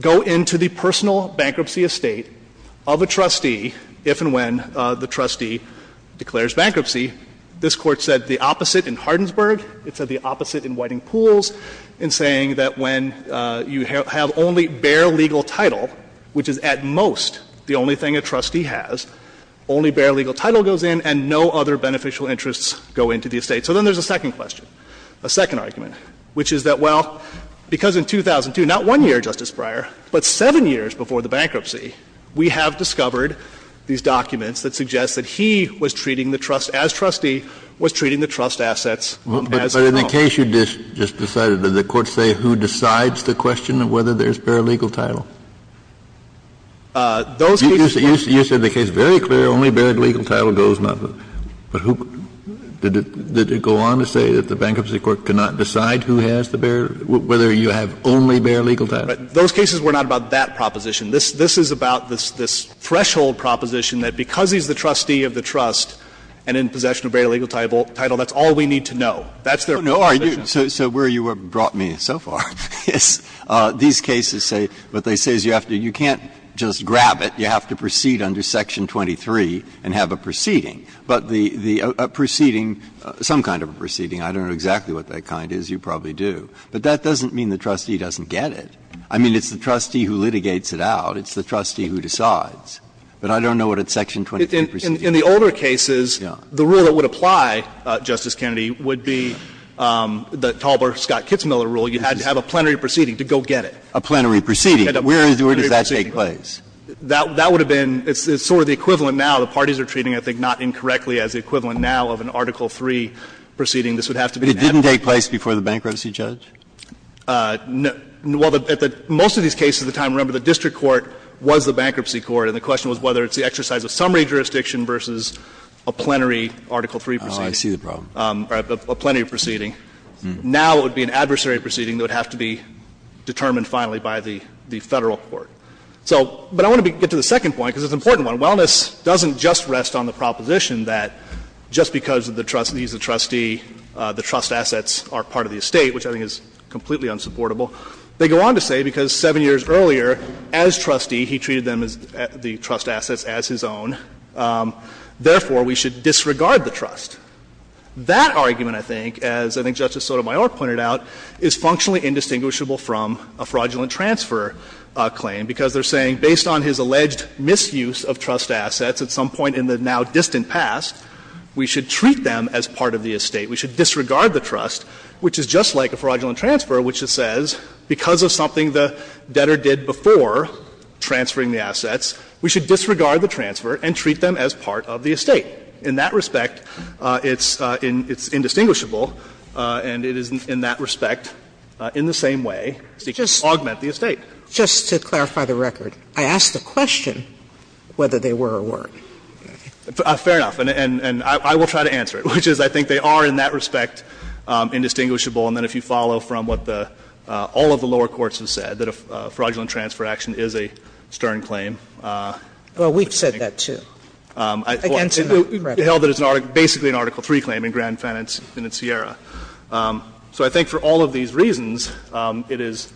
go into the personal bankruptcy estate of a trustee if and when the trustee declares bankruptcy. This Court said the opposite in Hardinsburg. It said the opposite in Whiting Pools in saying that when you have only bare legal title, which is at most the only thing a trustee has, only bare legal title goes in and no other beneficial interests go into the estate. So then there's a second question, a second argument, which is that, well, because in 2002, not one year, Justice Breyer, but seven years before the bankruptcy, we have discovered these documents that suggest that he was treating the trust as trustee, was treating the trust assets as his own. Kennedy, but in the case you just decided, did the Court say who decides the question Those cases weren't true. only bare legal title goes, but who, did it, did it go on to say that the Bankruptcy Court cannot decide who has the bare, whether you have only bare legal title? Those cases were not about that proposition. This, this is about this, this threshold proposition that because he's the trustee of the trust and in possession of bare legal title, that's all we need to know. That's their position. So, so where you have brought me so far is these cases say, what they say is you have to, you can't just grab it. You have to proceed under Section 23 and have a proceeding. But the, the proceeding, some kind of a proceeding, I don't know exactly what that kind is. You probably do. But that doesn't mean the trustee doesn't get it. I mean, it's the trustee who litigates it out. It's the trustee who decides. But I don't know what a Section 23 proceeding is. In the older cases, the rule that would apply, Justice Kennedy, would be the Talbert Scott-Kitzmiller rule. You had to have a plenary proceeding to go get it. A plenary proceeding. Where does that take place? That, that would have been, it's sort of the equivalent now. The parties are treating, I think, not incorrectly as the equivalent now of an Article III proceeding. This would have to be an ad. But it didn't take place before the bankruptcy judge? No. Well, most of these cases at the time, remember, the district court was the bankruptcy court, and the question was whether it's the exercise of summary jurisdiction versus a plenary Article III proceeding. Oh, I see the problem. A plenary proceeding. Now it would be an adversary proceeding that would have to be determined finally by the Federal court. So, but I want to get to the second point, because it's an important one. Wellness doesn't just rest on the proposition that just because the trustee is a trustee, the trust assets are part of the estate, which I think is completely unsupportable. They go on to say because seven years earlier, as trustee, he treated them as the trust assets as his own. Therefore, we should disregard the trust. That argument, I think, as I think Justice Sotomayor pointed out, is functionally indistinguishable from a fraudulent transfer claim, because they're saying based on his alleged misuse of trust assets at some point in the now distant past, we should treat them as part of the estate. We should disregard the trust, which is just like a fraudulent transfer, which it says because of something the debtor did before transferring the assets, we should disregard the transfer and treat them as part of the estate. In that respect, it's indistinguishable, and it is, in that respect, in the same way, to augment the estate. Sotomayor, just to clarify the record, I asked the question whether they were or weren't. Fair enough. And I will try to answer it, which is I think they are in that respect indistinguishable. And then if you follow from what the all of the lower courts have said, that a fraudulent transfer action is a stern claim. Well, we've said that, too. And it's held that it's basically an Article III claim in Grand Fen and in Sierra. So I think for all of these reasons, it is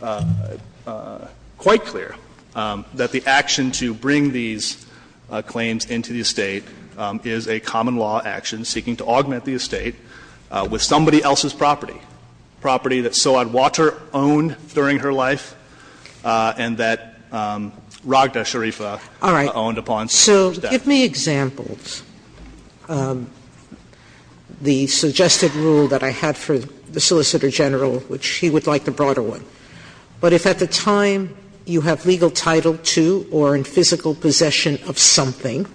quite clear that the action to bring these claims into the estate is a common law action seeking to augment the estate with somebody else's property, property that Sawadwater owned during her life and that Raghda Sharifah owned upon. So give me examples. The suggested rule that I had for the Solicitor General, which he would like the broader one. But if at the time you have legal title to or in physical possession of something,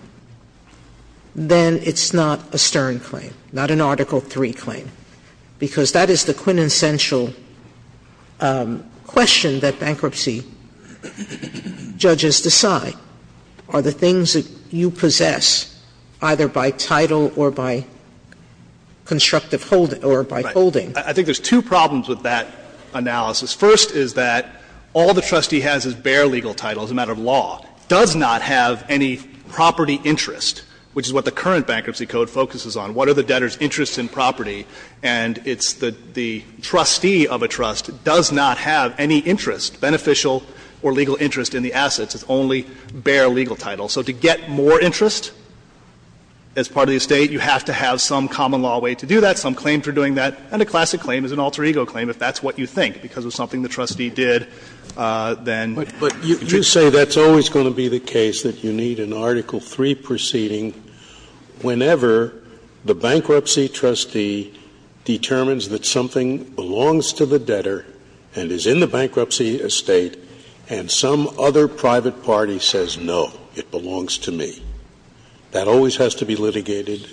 then it's not a stern claim, not an Article III claim, because that is the quintessential question that bankruptcy judges decide. Sotomayor, are the things that you possess, either by title or by constructive holding or by holding? I think there's two problems with that analysis. First is that all the trustee has is bare legal title as a matter of law, does not have any property interest, which is what the current Bankruptcy Code focuses on, what are the debtor's interests in property, and it's the trustee of a trust does not have any interest, beneficial or legal interest in the assets. It's only bare legal title. So to get more interest as part of the estate, you have to have some common law way to do that, some claim for doing that, and a classic claim is an alter ego claim if that's what you think, because of something the trustee did, then. Scalia, you say that's always going to be the case, that you need an Article III proceeding whenever the bankruptcy trustee determines that something belongs to the debtor and is in the bankruptcy estate and some other private party says, no, it belongs to me. That always has to be litigated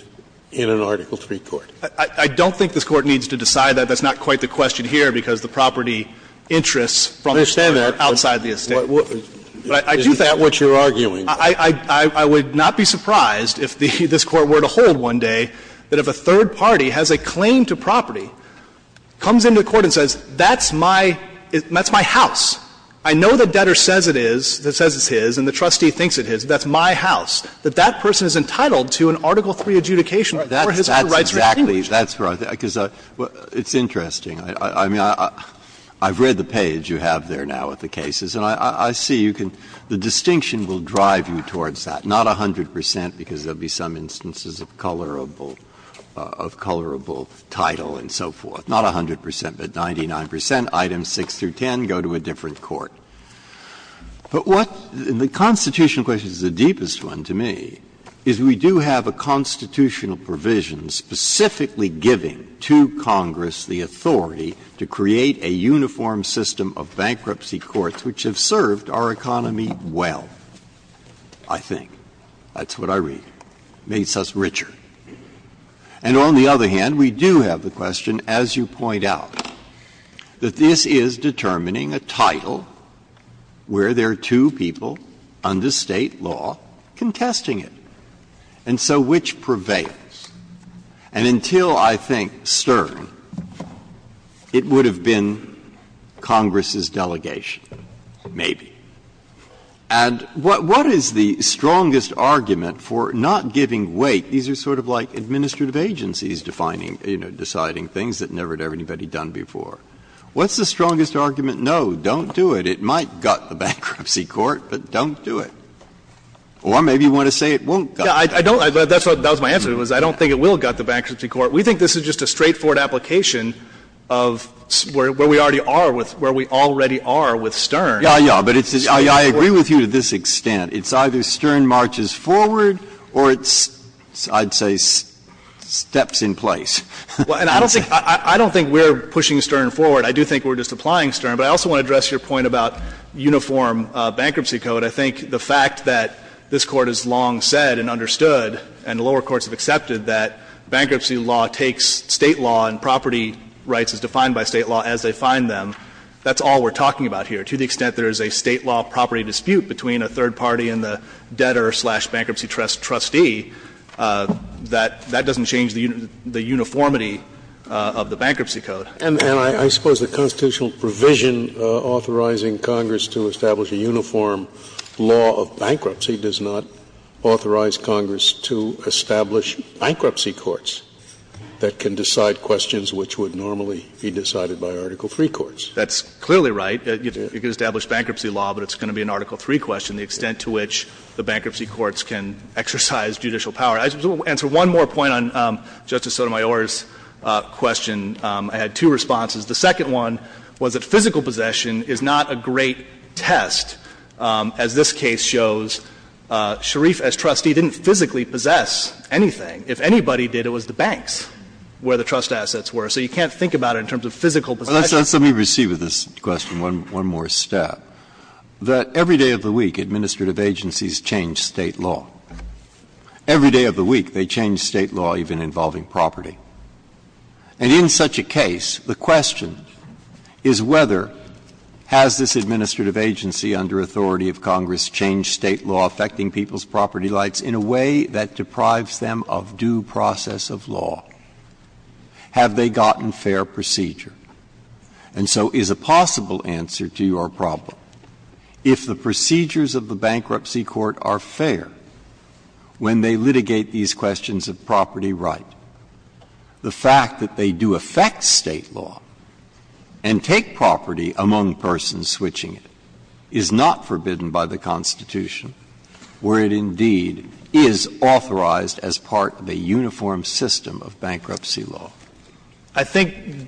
in an Article III court. I don't think this Court needs to decide that. That's not quite the question here, because the property interests from the estate are outside the estate. I understand that, but isn't that what you're arguing? I would not be surprised if this Court were to hold one day that if a third party has a claim to property, comes into court and says, that's my house, I know the debtor says it is, says it's his, and the trustee thinks it is, that's my house, that that person is entitled to an Article III adjudication for his or her rights to distinguish. Breyer, that's exactly, that's what I think, because it's interesting. I mean, I've read the page you have there now of the cases, and I see you can, the Constitutional question is the deepest one to me, is we do have a constitutional provision specifically giving to Congress the authority to create a uniform system of bankruptcy courts which have served our economy well, I think. That's what I read, makes us richer. And on the other hand, we do have the question, as you point out, that this is determining a title where there are two people under State law contesting it, and so which prevails. And until, I think, Stern, it would have been Congress's delegation, maybe. And what is the strongest argument for not giving weight? These are sort of like administrative agencies defining, you know, deciding things that never had anybody done before. What's the strongest argument? No, don't do it. It might gut the bankruptcy court, but don't do it. Or maybe you want to say it won't gut the bankruptcy court. Fisherman, that was my answer, was I don't think it will gut the bankruptcy court. We think this is just a straightforward application of where we already are with Stern. Breyer, but it's just straightforward. I agree with you to this extent. It's either Stern marches forward or it's, I'd say, steps in place. Well, and I don't think we're pushing Stern forward. I do think we're just applying Stern. But I also want to address your point about uniform bankruptcy code. I think the fact that this Court has long said and understood, and lower courts have accepted, that bankruptcy law takes State law and property rights as defined by State law as they find them. That's all we're talking about here. To the extent there is a State law property dispute between a third party and the debtor-slash-bankruptcy trustee, that doesn't change the uniformity of the bankruptcy code. And I suppose the constitutional provision authorizing Congress to establish a uniform law of bankruptcy does not authorize Congress to establish bankruptcy courts that can decide questions which would normally be decided by Article III courts. That's clearly right. You can establish bankruptcy law, but it's going to be an Article III question, the extent to which the bankruptcy courts can exercise judicial power. I just want to answer one more point on Justice Sotomayor's question. I had two responses. The second one was that physical possession is not a great test. As this case shows, Sharif as trustee didn't physically possess anything. If anybody did, it was the banks where the trust assets were. So you can't think about it in terms of physical possession. Breyer, let's let me recede with this question one more step, that every day of the week administrative agencies change State law. Every day of the week they change State law, even involving property. And in such a case, the question is whether has this administrative agency under authority of Congress changed State law affecting people's property rights in a way that deprives them of due process of law? Have they gotten fair procedure? And so is a possible answer to your problem, if the procedures of the bankruptcy court are fair when they litigate these questions of property right, the fact that they do affect State law and take property among persons switching it is not forbidden by the Constitution, where it indeed is authorized as part of a uniform system of bankruptcy law? I think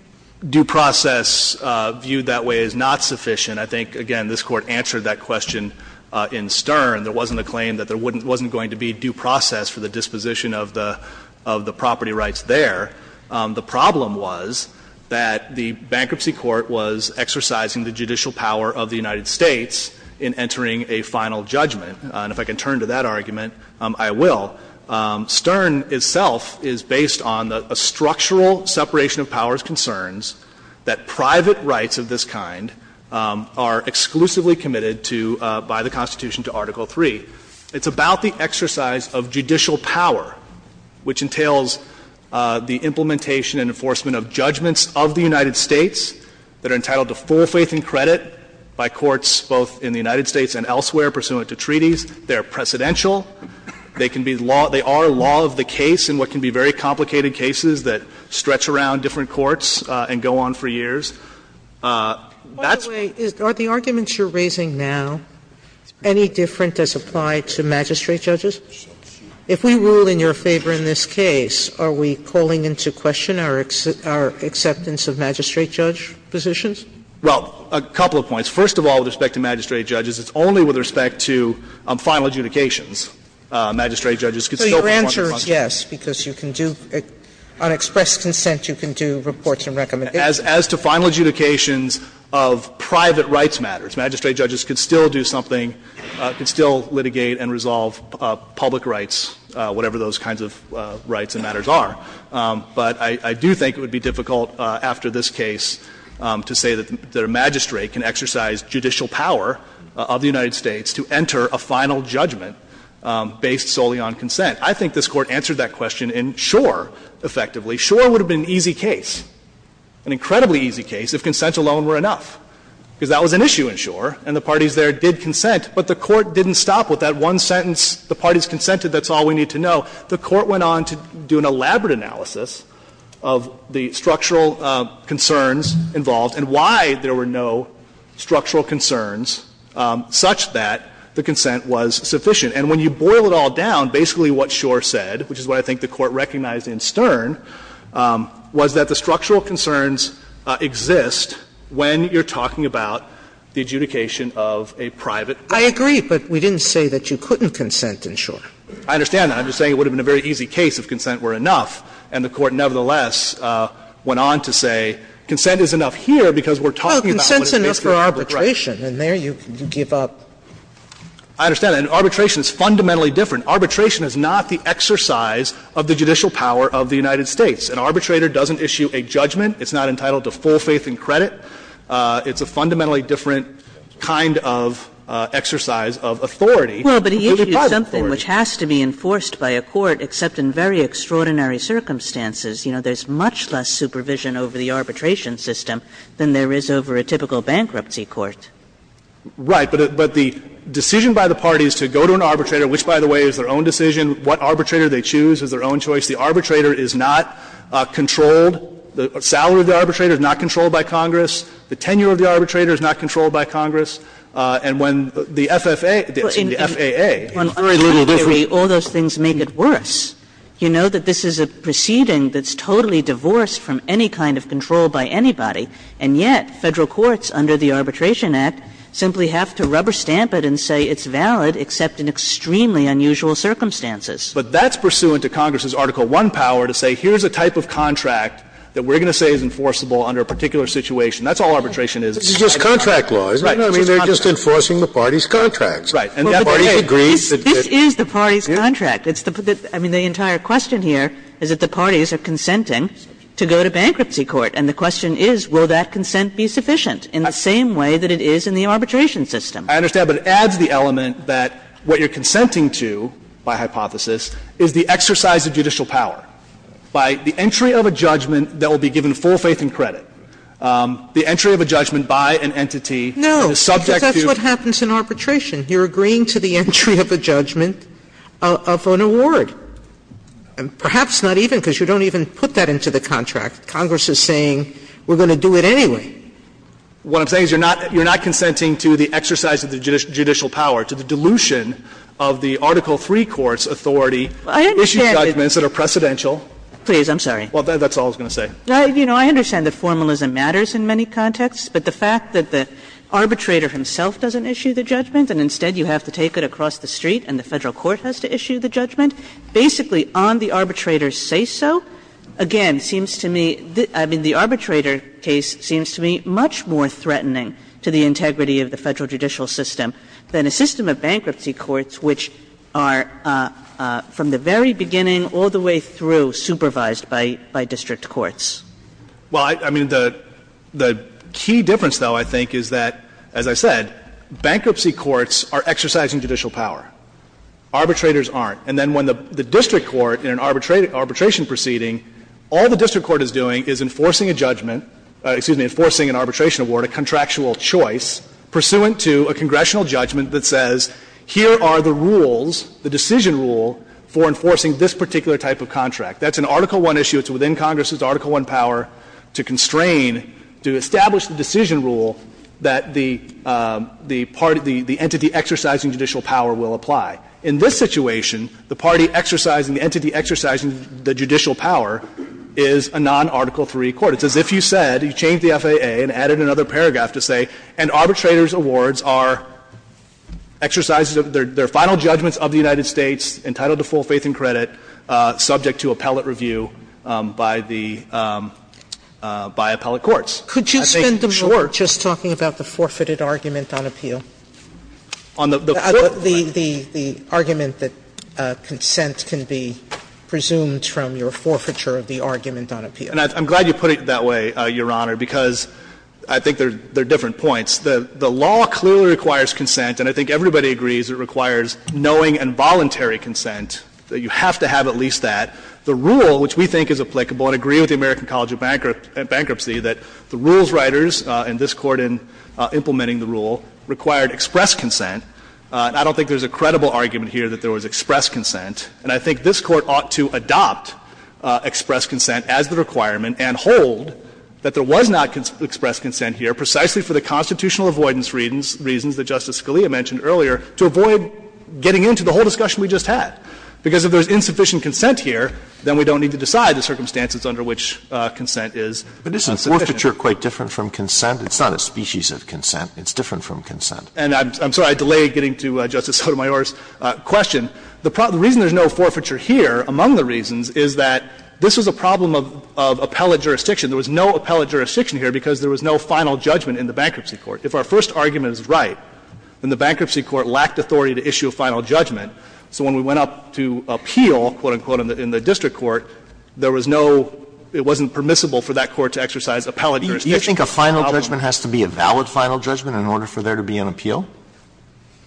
due process viewed that way is not sufficient. I think, again, this Court answered that question in Stern. There wasn't a claim that there wasn't going to be due process for the disposition of the property rights there. The problem was that the bankruptcy court was exercising the judicial power of the United States in entering a final judgment. And if I can turn to that argument, I will. Stern itself is based on a structural separation of powers concerns that private rights of this kind are exclusively committed to by the Constitution to Article 3. It's about the exercise of judicial power, which entails the implementation and enforcement of judgments of the United States that are entitled to full faith and credit by courts both in the United States and elsewhere pursuant to treaties. They are precedential. They can be law – they are law of the case in what can be very complicated cases that stretch around different courts and go on for years. That's why the arguments you're raising now, any different as applied to magistrate judges? If we rule in your favor in this case, are we calling into question our acceptance of magistrate judge positions? Well, a couple of points. First of all, with respect to magistrate judges, it's only with respect to final adjudications. Magistrate judges could still perform their functions. Sotomayor, your answer is yes, because you can do – on expressed consent, you can do reports and recommendations. As to final adjudications of private rights matters, magistrate judges could still do something, could still litigate and resolve public rights, whatever those kinds of rights and matters are. But I do think it would be difficult after this case to say that a magistrate can exercise judicial power of the United States to enter a final judgment based solely on consent. I think this Court answered that question in Schor, effectively. Schor would have been an easy case, an incredibly easy case, if consent alone were enough, because that was an issue in Schor, and the parties there did consent. But the Court didn't stop with that one sentence, the parties consented, that's all we need to know. The Court went on to do an elaborate analysis of the structural concerns involved and why there were no structural concerns such that the consent was sufficient. And when you boil it all down, basically what Schor said, which is what I think the Court recognized in Stern, was that the structural concerns exist when you're talking about the adjudication of a private right. Sotomayor, I agree, but we didn't say that you couldn't consent in Schor. I understand that. I'm just saying it would have been a very easy case if consent were enough. And the Court, nevertheless, went on to say consent is enough here because we're talking about what is basically a private right. Sotomayor, and there you give up. I understand that. And arbitration is fundamentally different. Arbitration is not the exercise of the judicial power of the United States. An arbitrator doesn't issue a judgment. It's not entitled to full faith and credit. It's a fundamentally different kind of exercise of authority. Kagan, Well, but he issued something which has to be enforced by a court, except in very extraordinary circumstances. You know, there's much less supervision over the arbitration system than there is over a typical bankruptcy court. Right. But the decision by the parties to go to an arbitrator, which, by the way, is their own decision, what arbitrator they choose is their own choice, the arbitrator is not controlled, the salary of the arbitrator is not controlled by Congress, the tenure of the arbitrator is not controlled by Congress, and when the FFA, the FAA, it's very little different. Kagan, Well, I mean, I agree, all those things make it worse. You know that this is a proceeding that's totally divorced from any kind of control by anybody, and yet Federal courts under the Arbitration Act simply have to rubber stamp it and say it's valid, except in extremely unusual circumstances. But that's pursuant to Congress's Article I power to say here's a type of contract that we're going to say is enforceable under a particular situation. That's all arbitration is. Scalia, This is just contract law. Kagan, Right. Scalia, I mean, they're just enforcing the party's contracts. Kagan, This is the party's contract. I mean, the entire question here is that the parties are consenting to go to bankruptcy court, and the question is, will that consent be sufficient in the same way that it is in the arbitration system? Scalia, I understand, but it adds the element that what you're consenting to, by hypothesis, is the exercise of judicial power. By the entry of a judgment that will be given full faith and credit, the entry of a judgment by an entity that is subject to. And that's what happens in arbitration. You're agreeing to the entry of a judgment of an award, and perhaps not even, because you don't even put that into the contract. Congress is saying, we're going to do it anyway. Fisher, What I'm saying is you're not consenting to the exercise of the judicial power, to the dilution of the Article III court's authority to issue judgments that are precedential. Kagan, Please, I'm sorry. Fisher, Well, that's all I was going to say. Kagan, You know, I understand that formalism matters in many contexts, but the fact that the arbitrator himself doesn't issue the judgment and instead you have to take it across the street and the Federal court has to issue the judgment, basically on the arbitrator's say-so, again, seems to me, I mean, the arbitrator case seems to me much more threatening to the integrity of the Federal judicial system than a system of bankruptcy courts which are, from the very beginning all the way through, supervised by district courts. Fisher, Well, I mean, the key difference, though, I think, is that, as I said, bankruptcy courts are exercising judicial power. Arbitrators aren't. And then when the district court in an arbitration proceeding, all the district court is doing is enforcing a judgment, excuse me, enforcing an arbitration award, a contractual choice, pursuant to a congressional judgment that says, here are the rules, the decision rule for enforcing this particular type of contract. That's an Article I issue. It's within Congress's Article I power to constrain, to establish the decision rule that the party, the entity exercising judicial power will apply. In this situation, the party exercising, the entity exercising the judicial power is a non-Article III court. It's as if you said, you changed the FAA and added another paragraph to say, an arbitrator's awards are exercises of their final judgments of the United States entitled to full appellate review by the, by appellate courts. Sotomayor, could you spend a moment just talking about the forfeited argument on appeal? The argument that consent can be presumed from your forfeiture of the argument on appeal. And I'm glad you put it that way, Your Honor, because I think they're different points. The law clearly requires consent, and I think everybody agrees it requires knowing and voluntary consent. You have to have at least that. The rule, which we think is applicable and agree with the American College of Bankrupt and Bankruptcy, that the rules writers and this Court in implementing the rule required express consent. And I don't think there's a credible argument here that there was express consent. And I think this Court ought to adopt express consent as the requirement and hold that there was not express consent here, precisely for the constitutional avoidance reasons that Justice Scalia mentioned earlier, to avoid getting into the whole discussion we just had. Because if there's insufficient consent here, then we don't need to decide the circumstances under which consent is insufficient. But isn't forfeiture quite different from consent? It's not a species of consent. It's different from consent. And I'm sorry I delayed getting to Justice Sotomayor's question. The reason there's no forfeiture here, among the reasons, is that this was a problem of appellate jurisdiction. There was no appellate jurisdiction here because there was no final judgment in the Bankruptcy Court. If our first argument is right, then the Bankruptcy Court lacked authority to issue a final judgment. So when we went up to appeal, quote, unquote, in the district court, there was no – it wasn't permissible for that court to exercise appellate jurisdiction. Alito, do you think a final judgment has to be a valid final judgment in order for there to be an appeal?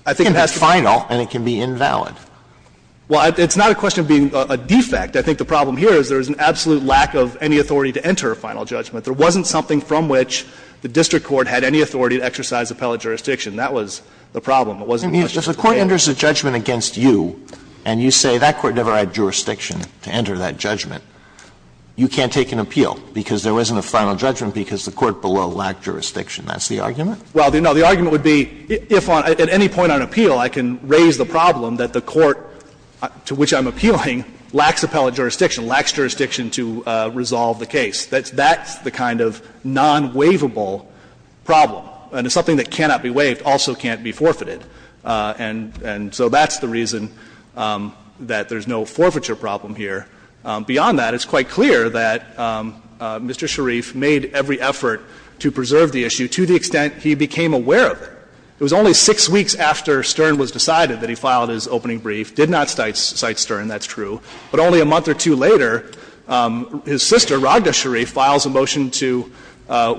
It can be final and it can be invalid. Well, it's not a question of being a defect. I think the problem here is there is an absolute lack of any authority to enter a final judgment. There wasn't something from which the district court had any authority to exercise appellate jurisdiction. That was the problem. It wasn't much to fail. If the court enters a judgment against you and you say that court never had jurisdiction to enter that judgment, you can't take an appeal because there wasn't a final judgment because the court below lacked jurisdiction. That's the argument? Well, no. The argument would be if on – at any point on appeal, I can raise the problem that the court to which I'm appealing lacks appellate jurisdiction, lacks jurisdiction to resolve the case. That's the kind of non-waivable problem. And if something that cannot be waived also can't be forfeited. And so that's the reason that there's no forfeiture problem here. Beyond that, it's quite clear that Mr. Sharif made every effort to preserve the issue to the extent he became aware of it. It was only six weeks after Stern was decided that he filed his opening brief, did not cite Stern, that's true. But only a month or two later, his sister, Raghda Sharif, files a motion to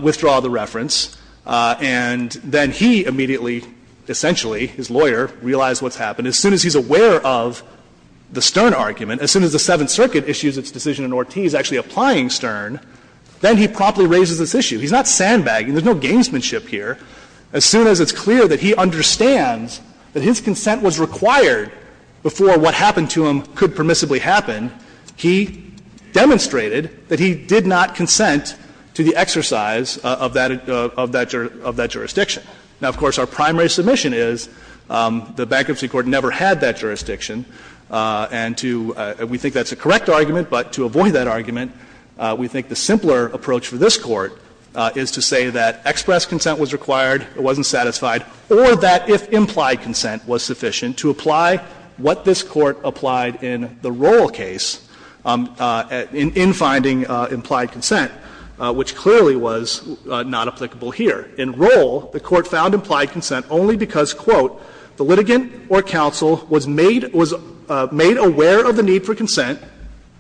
withdraw the reference, and then he immediately, essentially, his lawyer, realized what's happened. As soon as he's aware of the Stern argument, as soon as the Seventh Circuit issues its decision in Ortiz actually applying Stern, then he promptly raises this issue. He's not sandbagging. There's no gamesmanship here. As soon as it's clear that he understands that his consent was required before what happened to him could permissibly happen, he demonstrated that he did not consent to the exercise of that jurisdiction. Now, of course, our primary submission is the Bankruptcy Court never had that jurisdiction. And to we think that's a correct argument, but to avoid that argument, we think the simpler approach for this Court is to say that express consent was required, it wasn't satisfied, or that if implied consent was sufficient to apply what this the Court found implied consent only because, quote, the litigant or counsel was made aware of the need for consent,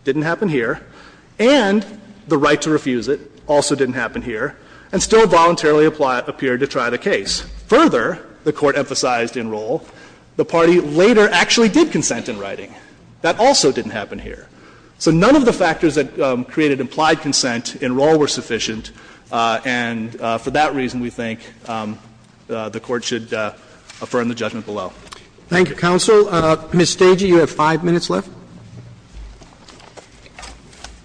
didn't happen here, and the right to refuse it, also didn't happen here, and still voluntarily appeared to try the case. Further, the Court emphasized in Rohl, the party later actually did consent in writing. That also didn't happen here. So we think that if implied consent and Rohl were sufficient, and for that reason we think the Court should affirm the judgment below. Roberts Thank you, counsel. Ms. Stagy, you have five minutes left. Stagy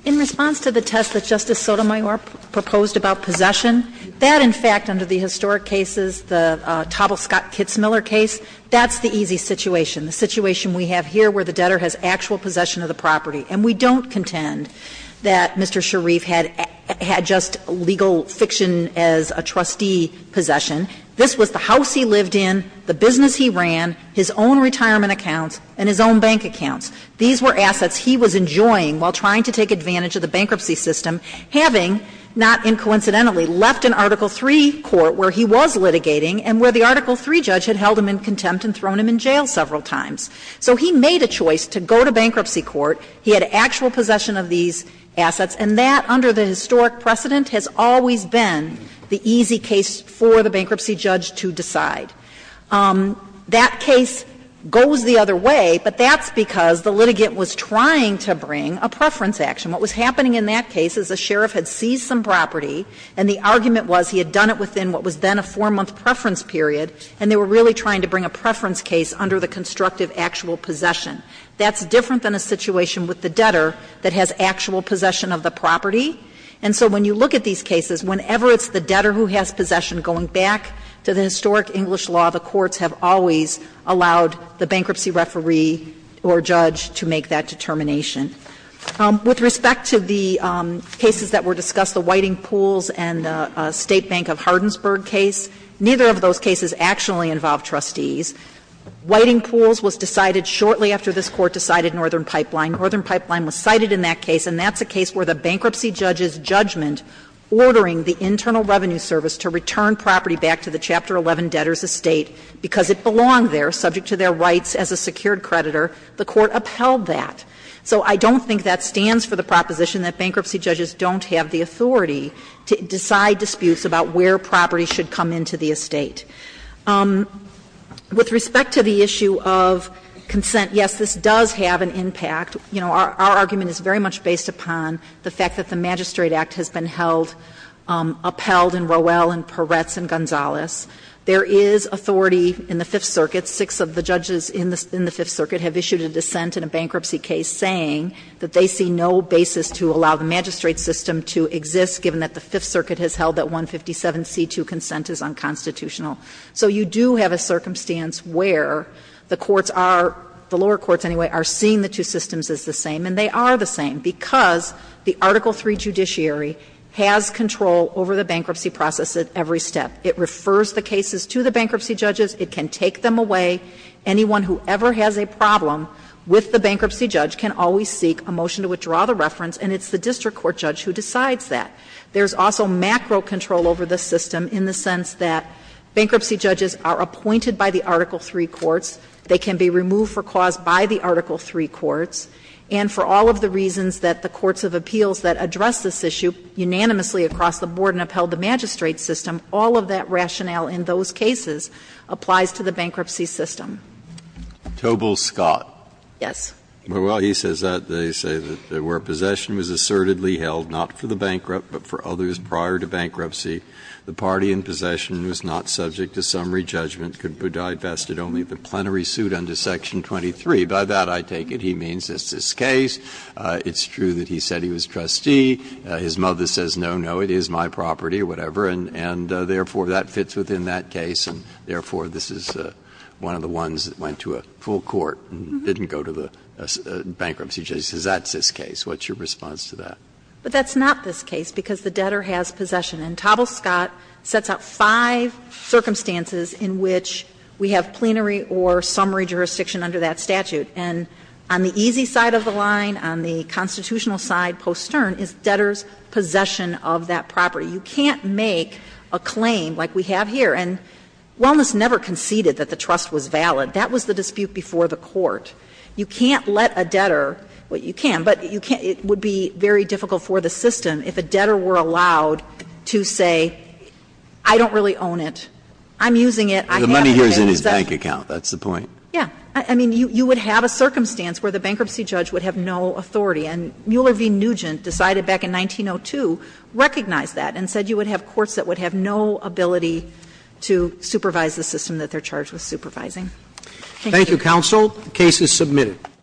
In response to the test that Justice Sotomayor proposed about possession, that in fact under the historic cases, the Tobel-Scott-Kitzmiller case, that's the easy situation. The situation we have here where the debtor has actual possession of the property. And we don't contend that Mr. Sharif had just legal fiction as a trustee possession. This was the house he lived in, the business he ran, his own retirement accounts, and his own bank accounts. These were assets he was enjoying while trying to take advantage of the bankruptcy system, having, not coincidentally, left an Article III court where he was litigating and where the Article III judge had held him in contempt and thrown him in jail several times. So he made a choice to go to bankruptcy court. He had actual possession of these assets, and that, under the historic precedent, has always been the easy case for the bankruptcy judge to decide. That case goes the other way, but that's because the litigant was trying to bring a preference action. What was happening in that case is the sheriff had seized some property, and the argument was he had done it within what was then a four-month preference period, and they were really trying to bring a preference case under the constructive actual possession. That's different than a situation with the debtor that has actual possession of the property. And so when you look at these cases, whenever it's the debtor who has possession, going back to the historic English law, the courts have always allowed the bankruptcy referee or judge to make that determination. With respect to the cases that were discussed, the Whiting Pools and the State Bank of Hardinsburg case, neither of those cases actually involved trustees. Whiting Pools was decided shortly after this Court decided Northern Pipeline. Northern Pipeline was cited in that case, and that's a case where the bankruptcy judge's judgment ordering the Internal Revenue Service to return property back to the Chapter 11 debtor's estate because it belonged there, subject to their rights as a secured creditor, the Court upheld that. So I don't think that stands for the proposition that bankruptcy judges don't have With respect to the issue of consent, yes, this does have an impact. You know, our argument is very much based upon the fact that the Magistrate Act has been held, upheld in Rowell and Peretz and Gonzales. There is authority in the Fifth Circuit, six of the judges in the Fifth Circuit have issued a dissent in a bankruptcy case saying that they see no basis to allow the magistrate system to exist, given that the Fifth Circuit has held that 157c2 consent is unconstitutional. So you do have a circumstance where the courts are, the lower courts anyway, are seeing the two systems as the same, and they are the same, because the Article III judiciary has control over the bankruptcy process at every step. It refers the cases to the bankruptcy judges. It can take them away. Anyone who ever has a problem with the bankruptcy judge can always seek a motion to withdraw the reference, and it's the district court judge who decides that. There is also macro control over the system in the sense that bankruptcy judges are appointed by the Article III courts, they can be removed for cause by the Article III courts, and for all of the reasons that the courts of appeals that address this issue unanimously across the board and upheld the magistrate system, all of that rationale in those cases applies to the bankruptcy system. Breyer, Tobel, Scott. Yes. Well, he says that they say that where possession was assertedly held, not for the bankruptcy, but for others prior to bankruptcy, the party in possession was not subject to summary judgment, could be divested only of the plenary suit under Section 23. By that I take it he means it's this case, it's true that he said he was trustee, his mother says no, no, it is my property or whatever, and therefore that fits within that case, and therefore this is one of the ones that went to a full court and didn't go to the bankruptcy judge and says that's this case. What's your response to that? But that's not this case, because the debtor has possession, and Tobel, Scott, sets out five circumstances in which we have plenary or summary jurisdiction under that statute, and on the easy side of the line, on the constitutional side post stern, is debtor's possession of that property. You can't make a claim like we have here, and Wellness never conceded that the trust was valid. That was the dispute before the court. You can't let a debtor, well, you can, but you can't, it would be very difficult for the system if a debtor were allowed to say I don't really own it, I'm using it, I have it. The money here is in his bank account, that's the point. Yeah. I mean, you would have a circumstance where the bankruptcy judge would have no authority, and Mueller v. Nugent decided back in 1902, recognized that, and said you would have courts that would have no ability to supervise the system that they're charged with supervising. Thank you. Thank you, counsel. The case is submitted.